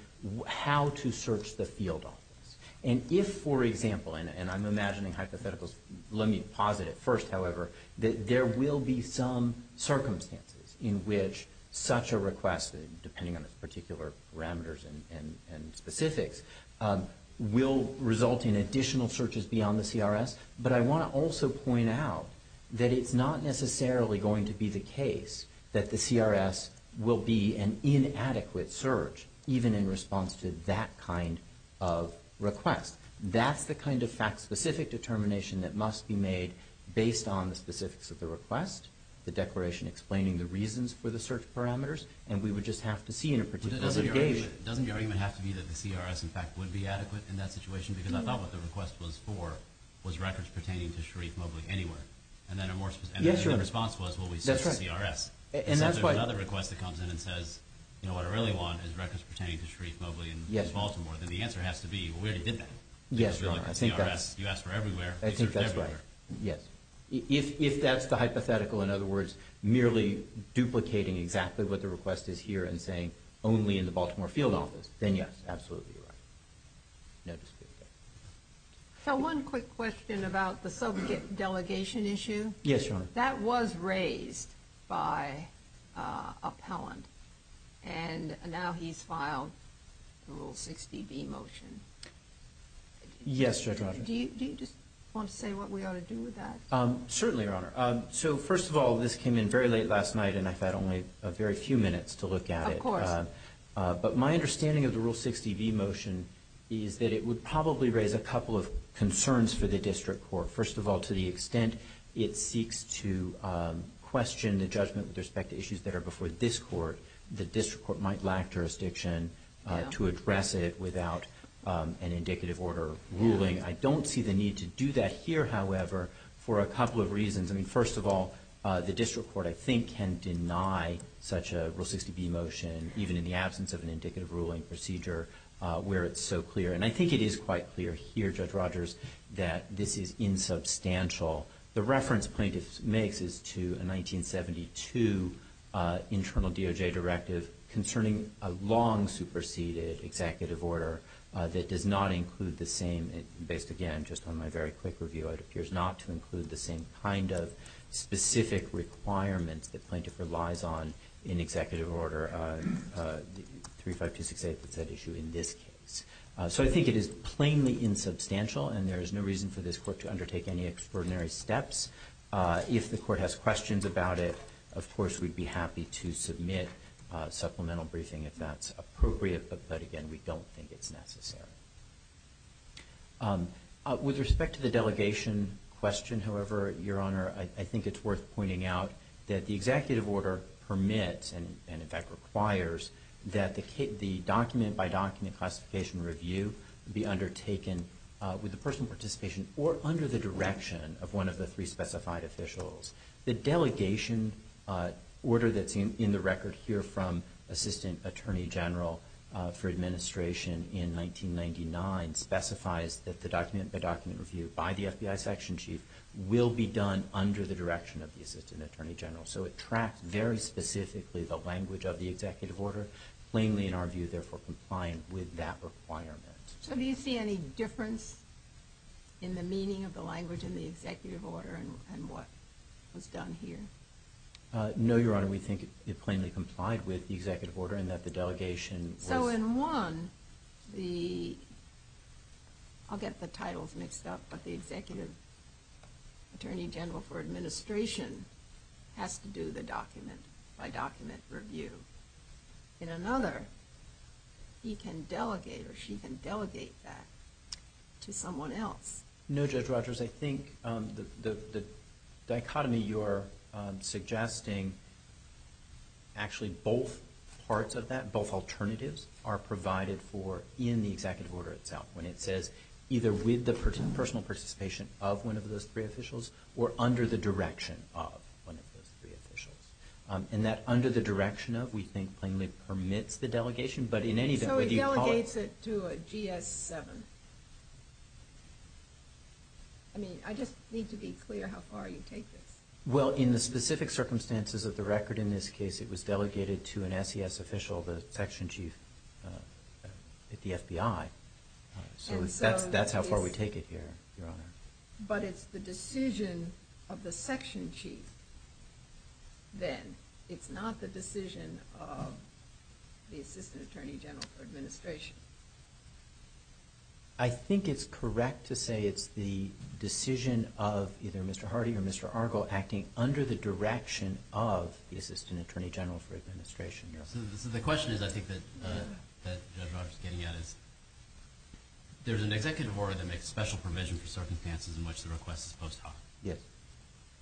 how to search the field office. And if, for example, and I'm imagining hypotheticals, let me posit it first, however, that there will be some circumstances in which such a request, depending on the particular parameters and specifics, will result in additional searches beyond the CRS. But I want to also point out that it's not necessarily going to be the case that the CRS will be an inadequate search even in response to that kind of request. That's the kind of fact-specific determination that must be made based on the specifics of the request, the declaration explaining the reasons for the search parameters, and we would just have to see in a particular situation. But doesn't the argument have to be that the CRS, in fact, would be adequate in that situation? Because I thought what the request was for was records pertaining to Sharif Mobley anywhere. And then the response was, well, we searched the CRS. And so if there's another request that comes in and says, you know, what I really want is records pertaining to Sharif Mobley in Baltimore, then the answer has to be, well, we already did that. Yes, Your Honor. You asked for everywhere. I think that's right. Yes. If that's the hypothetical, in other words, merely duplicating exactly what the request is here and saying only in the Baltimore field office, then yes, absolutely right. So one quick question about the subject delegation issue. Yes, Your Honor. That was raised by Appellant, and now he's filed the Rule 60B motion. Yes, Judge Rodgers. Do you just want to say what we ought to do with that? Certainly, Your Honor. So, first of all, this came in very late last night, and I've had only a very few minutes to look at it. Of course. But my understanding of the Rule 60B motion is that it would probably raise a couple of concerns for the district court. First of all, to the extent it seeks to question the judgment with respect to issues that are before this court, the district court might lack jurisdiction to address it without an indicative order of ruling. I don't see the need to do that here, however, for a couple of reasons. I mean, first of all, the district court, I think, can deny such a Rule 60B motion, even in the absence of an indicative ruling procedure where it's so clear. And I think it is quite clear here, Judge Rodgers, that this is insubstantial. The reference plaintiff makes is to a 1972 internal DOJ directive concerning a long-superseded executive order that does not include the same, based, again, just on my very quick review, it appears not to include the same kind of specific requirements that plaintiff relies on in executive order 35268 that's at issue in this case. So I think it is plainly insubstantial, and there is no reason for this court to undertake any extraordinary steps. If the court has questions about it, of course, we'd be happy to submit a supplemental briefing if that's appropriate. But, again, we don't think it's necessary. With respect to the delegation question, however, Your Honor, I think it's worth pointing out that the executive order permits and, in fact, requires that the document-by-document classification review be undertaken with the personal participation or under the direction of one of the three specified officials. The delegation order that's in the record here from Assistant Attorney General for Administration in 1999 specifies that the document-by-document review by the FBI Section Chief will be done under the direction of the Assistant Attorney General. So it tracks very specifically the language of the executive order, plainly, in our view, therefore complying with that requirement. So do you see any difference in the meaning of the language in the executive order and what was done here? No, Your Honor. We think it plainly complied with the executive order and that the delegation was... So in one, I'll get the titles mixed up, but the Executive Attorney General for Administration has to do the document-by-document review. In another, he can delegate or she can delegate that to someone else. No, Judge Rogers. I think the dichotomy you're suggesting, actually both parts of that, both alternatives, are provided for in the executive order itself when it says either with the personal participation of one of those three officials or under the direction of one of those three officials. And that under the direction of, we think, plainly permits the delegation, but in any... So he delegates it to a GS-7. I mean, I just need to be clear how far you take this. Well, in the specific circumstances of the record in this case, it was delegated to an SES official, the Section Chief at the FBI. So that's how far we take it here, Your Honor. But it's the decision of the Section Chief, then. It's not the decision of the Assistant Attorney General for Administration. I think it's correct to say it's the decision of either Mr. Hardy or Mr. Argo acting under the direction of the Assistant Attorney General for Administration. So the question is, I think, that Judge Rogers is getting at is there's an executive order that makes special provision for circumstances in which the request is post hoc. Yes.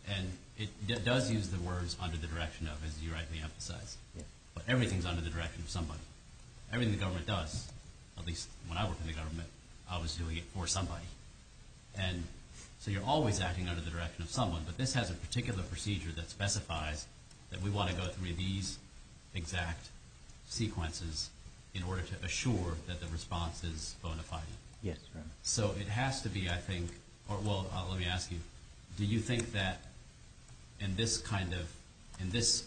And it does use the words under the direction of, as you rightly emphasize. Yes. But everything's under the direction of somebody. Everything the government does, at least when I worked in the government, I was doing it for somebody. And so you're always acting under the direction of someone. But this has a particular procedure that specifies that we want to go through these exact sequences in order to assure that the response is bona fide. Yes, Your Honor. So it has to be, I think – well, let me ask you. Do you think that in this kind of – in this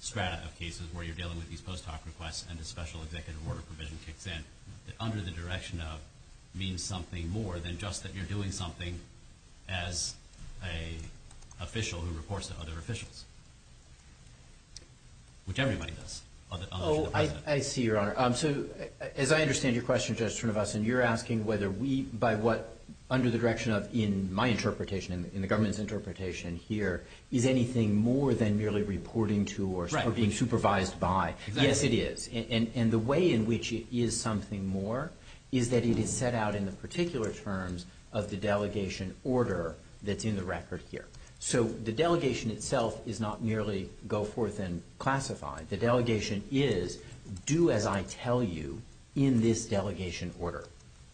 strata of cases where you're dealing with these post hoc requests and a special executive order provision kicks in, that under the direction of means something more than just that you're doing something as an official who reports to other officials, which everybody does, other than the President? Oh, I see, Your Honor. So as I understand your question, Judge Trinovasan, you're asking whether we – by what under the direction of in my interpretation and the government's interpretation here, is anything more than merely reporting to or being supervised by. Right. Yes, it is. And the way in which it is something more is that it is set out in the particular terms of the delegation order that's in the record here. So the delegation itself is not merely go forth and classify. The delegation is do as I tell you in this delegation order.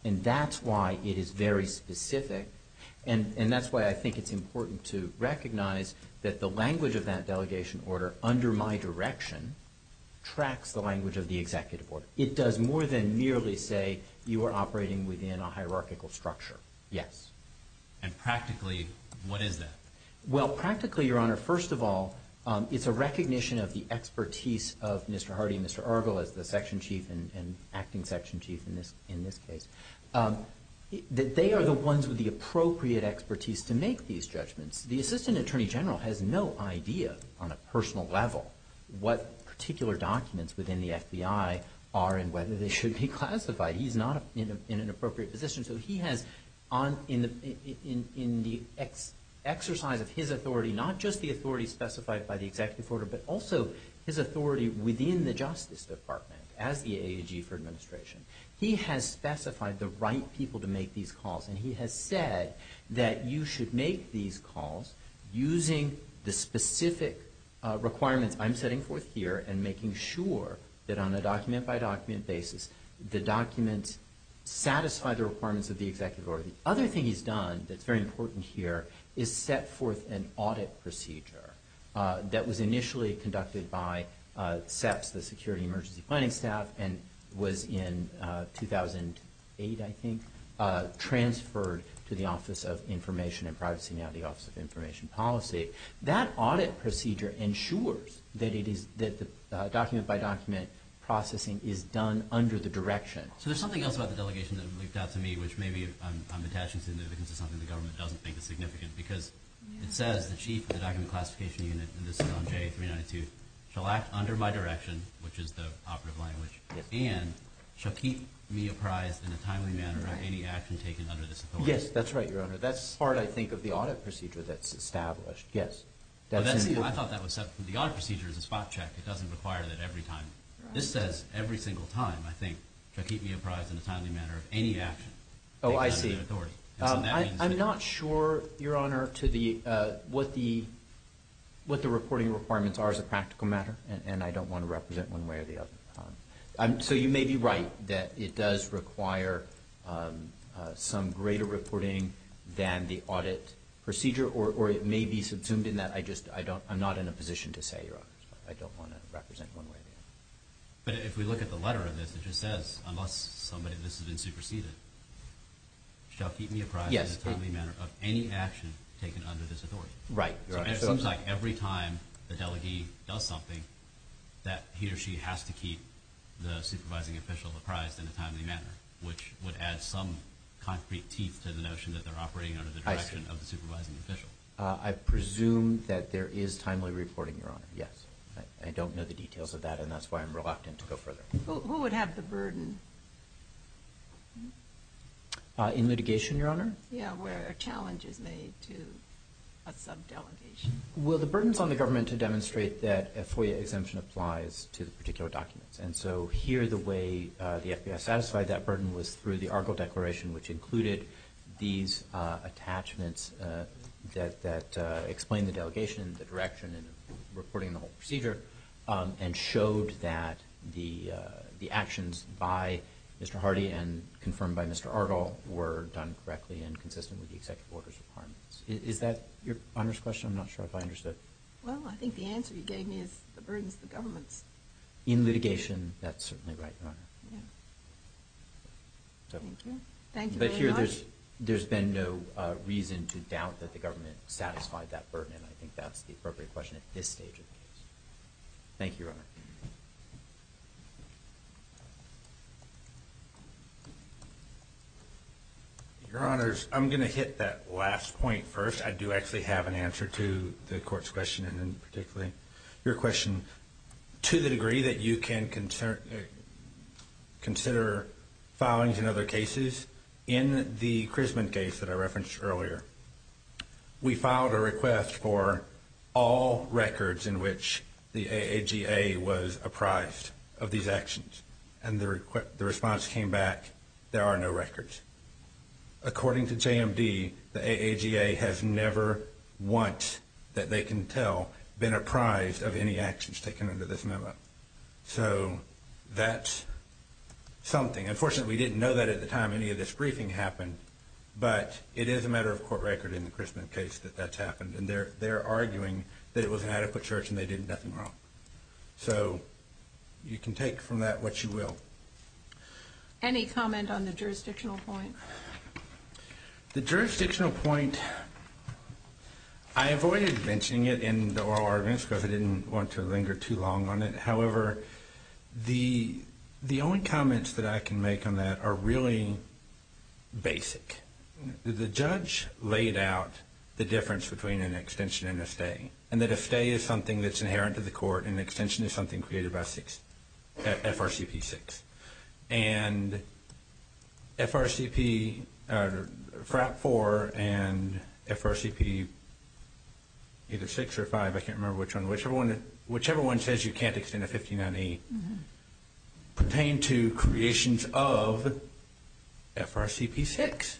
And that's why it is very specific, and that's why I think it's important to recognize that the language of that delegation order under my direction tracks the language of the executive order. It does more than merely say you are operating within a hierarchical structure. Yes. And practically, what is that? Well, practically, Your Honor, first of all, it's a recognition of the expertise of Mr. Hardy and Mr. Urgell as the section chief and acting section chief in this case. They are the ones with the appropriate expertise to make these judgments. The assistant attorney general has no idea on a personal level what particular documents within the FBI are and whether they should be classified. He's not in an appropriate position. So he has, in the exercise of his authority, not just the authority specified by the executive order, but also his authority within the Justice Department as the AG for administration, he has specified the right people to make these calls, and he has said that you should make these calls using the specific requirements I'm setting forth here and making sure that on a document-by-document basis the documents satisfy the requirements of the executive order. The other thing he's done that's very important here is set forth an audit procedure that was initially conducted by SEPS, the Security Emergency Planning Staff, and was in 2008, I think, transferred to the Office of Information and Privacy, now the Office of Information Policy. That audit procedure ensures that the document-by-document processing is done under the direction. So there's something else about the delegation that leaked out to me, which maybe I'm attaching significance to something the government doesn't think is significant, because it says the chief of the document classification unit, and this is on J392, shall act under my direction, which is the operative language, and shall keep me apprised in a timely manner of any action taken under this authority. Yes, that's right, Your Honor. That's part, I think, of the audit procedure that's established. Yes. I thought that was separate. The audit procedure is a spot check. It doesn't require that every time. This says every single time, I think, shall keep me apprised in a timely manner of any action taken under the authority. Oh, I see. I'm not sure, Your Honor, what the reporting requirements are as a practical matter, and I don't want to represent one way or the other. So you may be right that it does require some greater reporting than the audit procedure, or it may be subsumed in that I'm not in a position to say, Your Honor, I don't want to represent one way or the other. But if we look at the letter of this, it just says, unless somebody, this has been superseded, shall keep me apprised in a timely manner of any action taken under this authority. Right, Your Honor. It seems like every time the delegee does something, that he or she has to keep the supervising official apprised in a timely manner, which would add some concrete teeth to the notion that they're operating under the direction of the supervising official. I presume that there is timely reporting, Your Honor. Yes. I don't know the details of that, and that's why I'm reluctant to go further. Who would have the burden? In litigation, Your Honor? Yes, where a challenge is made to a subdelegation. Well, the burden is on the government to demonstrate that a FOIA exemption applies to the particular documents. And so here the way the FBI satisfied that burden was through the Argyle Declaration, which included these attachments that explain the delegation, the direction, and reporting the whole procedure, and showed that the actions by Mr. Hardy and confirmed by Mr. Argyle were done correctly and consistent with the executive order's requirements. Is that Your Honor's question? I'm not sure if I understood. Well, I think the answer you gave me is the burden is the government's. In litigation, that's certainly right, Your Honor. Yeah. Thank you. Thank you very much. But here there's been no reason to doubt that the government satisfied that burden, and I think that's the appropriate question at this stage of the case. Thank you, Your Honor. Your Honors, I'm going to hit that last point first. I do actually have an answer to the Court's question and particularly your question. To the degree that you can consider filings in other cases, in the Chrisman case that I referenced earlier, we filed a request for all records in which the AAGA was apprised of these actions. And the response came back, there are no records. According to JMD, the AAGA has never once, that they can tell, been apprised of any actions taken under this memo. So that's something. Unfortunately, we didn't know that at the time any of this briefing happened, but it is a matter of court record in the Chrisman case that that's happened. And they're arguing that it was an adequate search and they did nothing wrong. So you can take from that what you will. Any comment on the jurisdictional point? The jurisdictional point, I avoided mentioning it in the oral arguments because I didn't want to linger too long on it. However, the only comments that I can make on that are really basic. The judge laid out the difference between an extension and a stay, and that a stay is something that's inherent to the court and an extension is something created by FRCP 6. And FRCP 4 and FRCP either 6 or 5, I can't remember which one, whichever one says you can't extend a 59E pertain to creations of FRCP 6.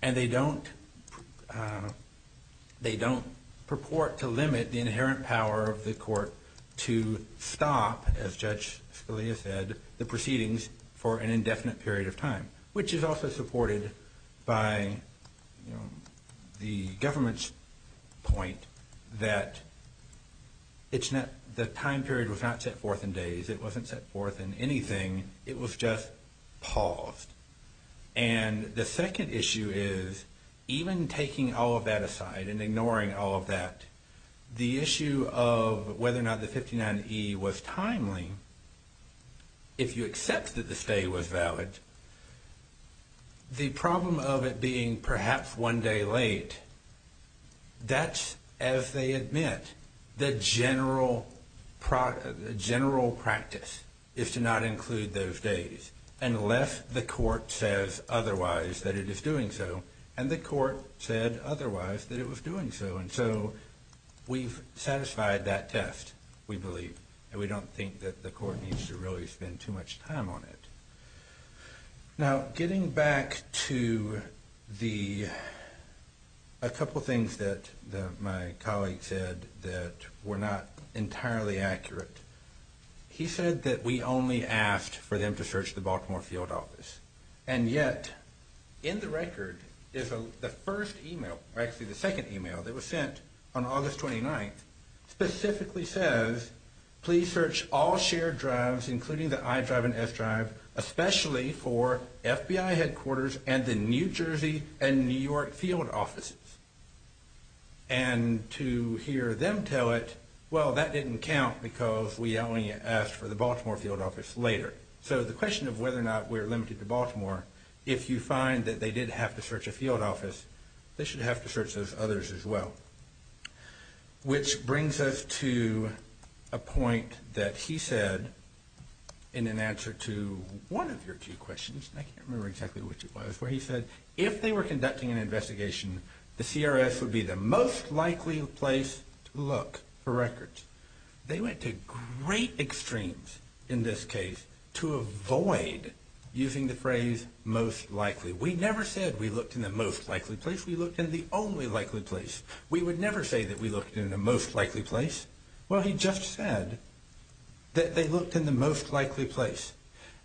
And they don't purport to limit the inherent power of the court to stop, as Judge Scalia said, the proceedings for an indefinite period of time, which is also supported by the government's point that the time period was not set forth in days. It wasn't set forth in anything. It was just paused. And the second issue is even taking all of that aside and ignoring all of that, the issue of whether or not the 59E was timely, if you accept that the stay was valid, the problem of it being perhaps one day late, that's, as they admit, the general practice is to not include those days unless the court says otherwise that it is doing so. And the court said otherwise that it was doing so. And so we've satisfied that test, we believe. And we don't think that the court needs to really spend too much time on it. Now, getting back to a couple of things that my colleague said that were not entirely accurate, he said that we only asked for them to search the Baltimore field office. And yet, in the record, the first email, actually the second email that was sent on August 29th, specifically says, please search all shared drives including the I drive and S drive, especially for FBI headquarters and the New Jersey and New York field offices. And to hear them tell it, well, that didn't count because we only asked for the Baltimore field office later. So the question of whether or not we're limited to Baltimore, if you find that they did have to search a field office, they should have to search those others as well. Which brings us to a point that he said in an answer to one of your two questions, and I can't remember exactly which it was, where he said if they were conducting an investigation, the CRS would be the most likely place to look for records. They went to great extremes in this case to avoid using the phrase most likely. We never said we looked in the most likely place. We looked in the only likely place. We would never say that we looked in the most likely place. Well, he just said that they looked in the most likely place.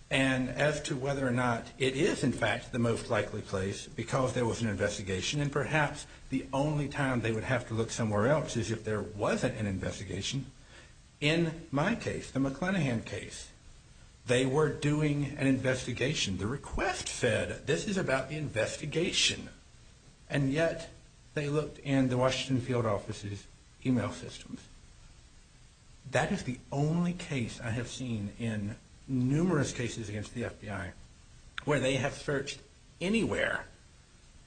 And as to whether or not it is in fact the most likely place because there was an investigation, and perhaps the only time they would have to look somewhere else is if there wasn't an investigation. In my case, the McClenahan case, they were doing an investigation. The request said this is about the investigation, and yet they looked in the Washington field office's email systems. That is the only case I have seen in numerous cases against the FBI where they have searched anywhere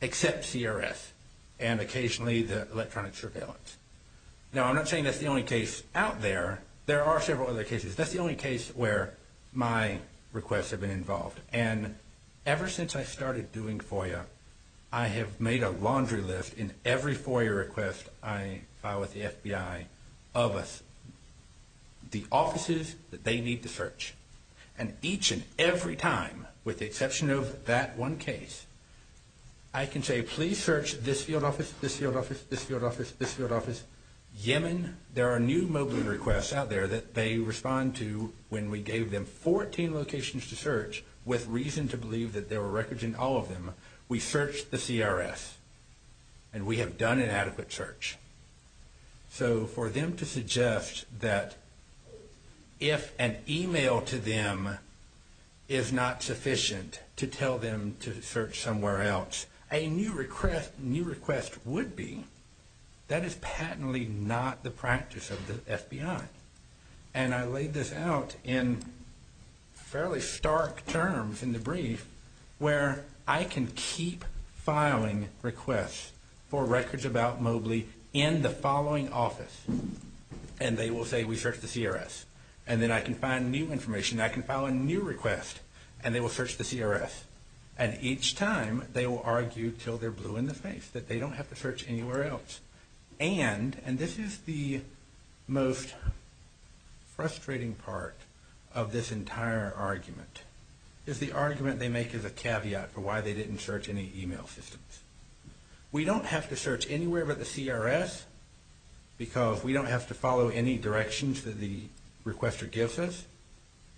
except CRS and occasionally the electronic surveillance. Now, I'm not saying that's the only case out there. There are several other cases. That's the only case where my requests have been involved. And ever since I started doing FOIA, I have made a laundry list in every FOIA request I file with the FBI of us, the offices that they need to search. And each and every time, with the exception of that one case, I can say please search this field office, this field office, this field office, this field office, Yemen. When there are new mobile requests out there that they respond to when we gave them 14 locations to search, with reason to believe that there were records in all of them, we searched the CRS, and we have done an adequate search. So for them to suggest that if an email to them is not sufficient to tell them to search somewhere else, a new request would be, that is patently not the practice of the FBI. And I laid this out in fairly stark terms in the brief where I can keep filing requests for records about Mobley in the following office, and they will say we searched the CRS. And then I can find new information, I can file a new request, and they will search the CRS. And each time, they will argue until they're blue in the face that they don't have to search anywhere else. And, and this is the most frustrating part of this entire argument, is the argument they make as a caveat for why they didn't search any email systems. We don't have to search anywhere but the CRS because we don't have to follow any directions that the requester gives us,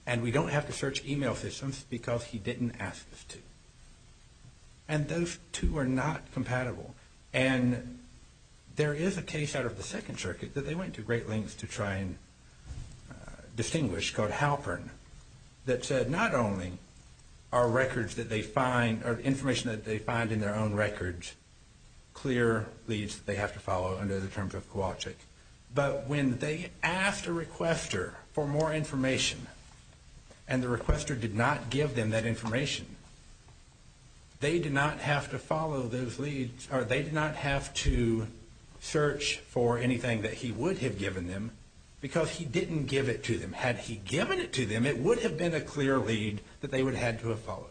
and we don't have to search email systems because he didn't ask us to. And those two are not compatible. And there is a case out of the Second Circuit that they went to great lengths to try and distinguish called Halpern that said not only are records that they find, or information that they find in their own records, clear leads that they have to follow under the terms of Kowalczyk, but when they asked a requester for more information and the requester did not give them that information, they did not have to follow those leads, or they did not have to search for anything that he would have given them because he didn't give it to them. Had he given it to them, it would have been a clear lead that they would have had to have followed.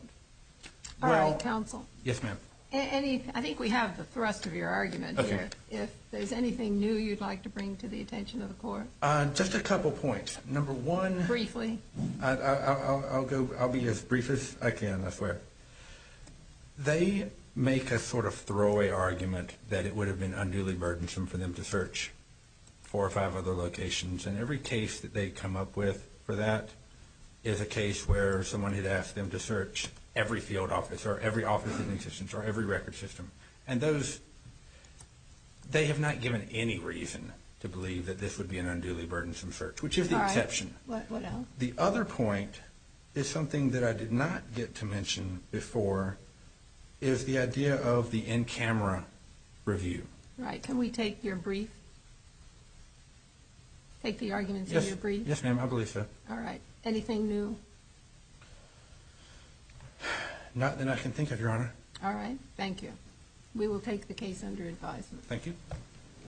All right, counsel. Yes, ma'am. I think we have the thrust of your argument here. If there's anything new you'd like to bring to the attention of the court. Just a couple points. Number one. Briefly. I'll be as brief as I can, I swear. They make a sort of throwaway argument that it would have been unduly burdensome for them to search four or five other locations. And every case that they come up with for that is a case where someone had asked them to search every field office or every office in existence or every record system. And they have not given any reason to believe that this would be an unduly burdensome search, which is the exception. All right. What else? The other point is something that I did not get to mention before, is the idea of the in-camera review. Right. Can we take your brief? Take the arguments in your brief? Yes, ma'am. I believe so. All right. Anything new? Not that I can think of, Your Honor. All right. Thank you. We will take the case under advisement. Thank you.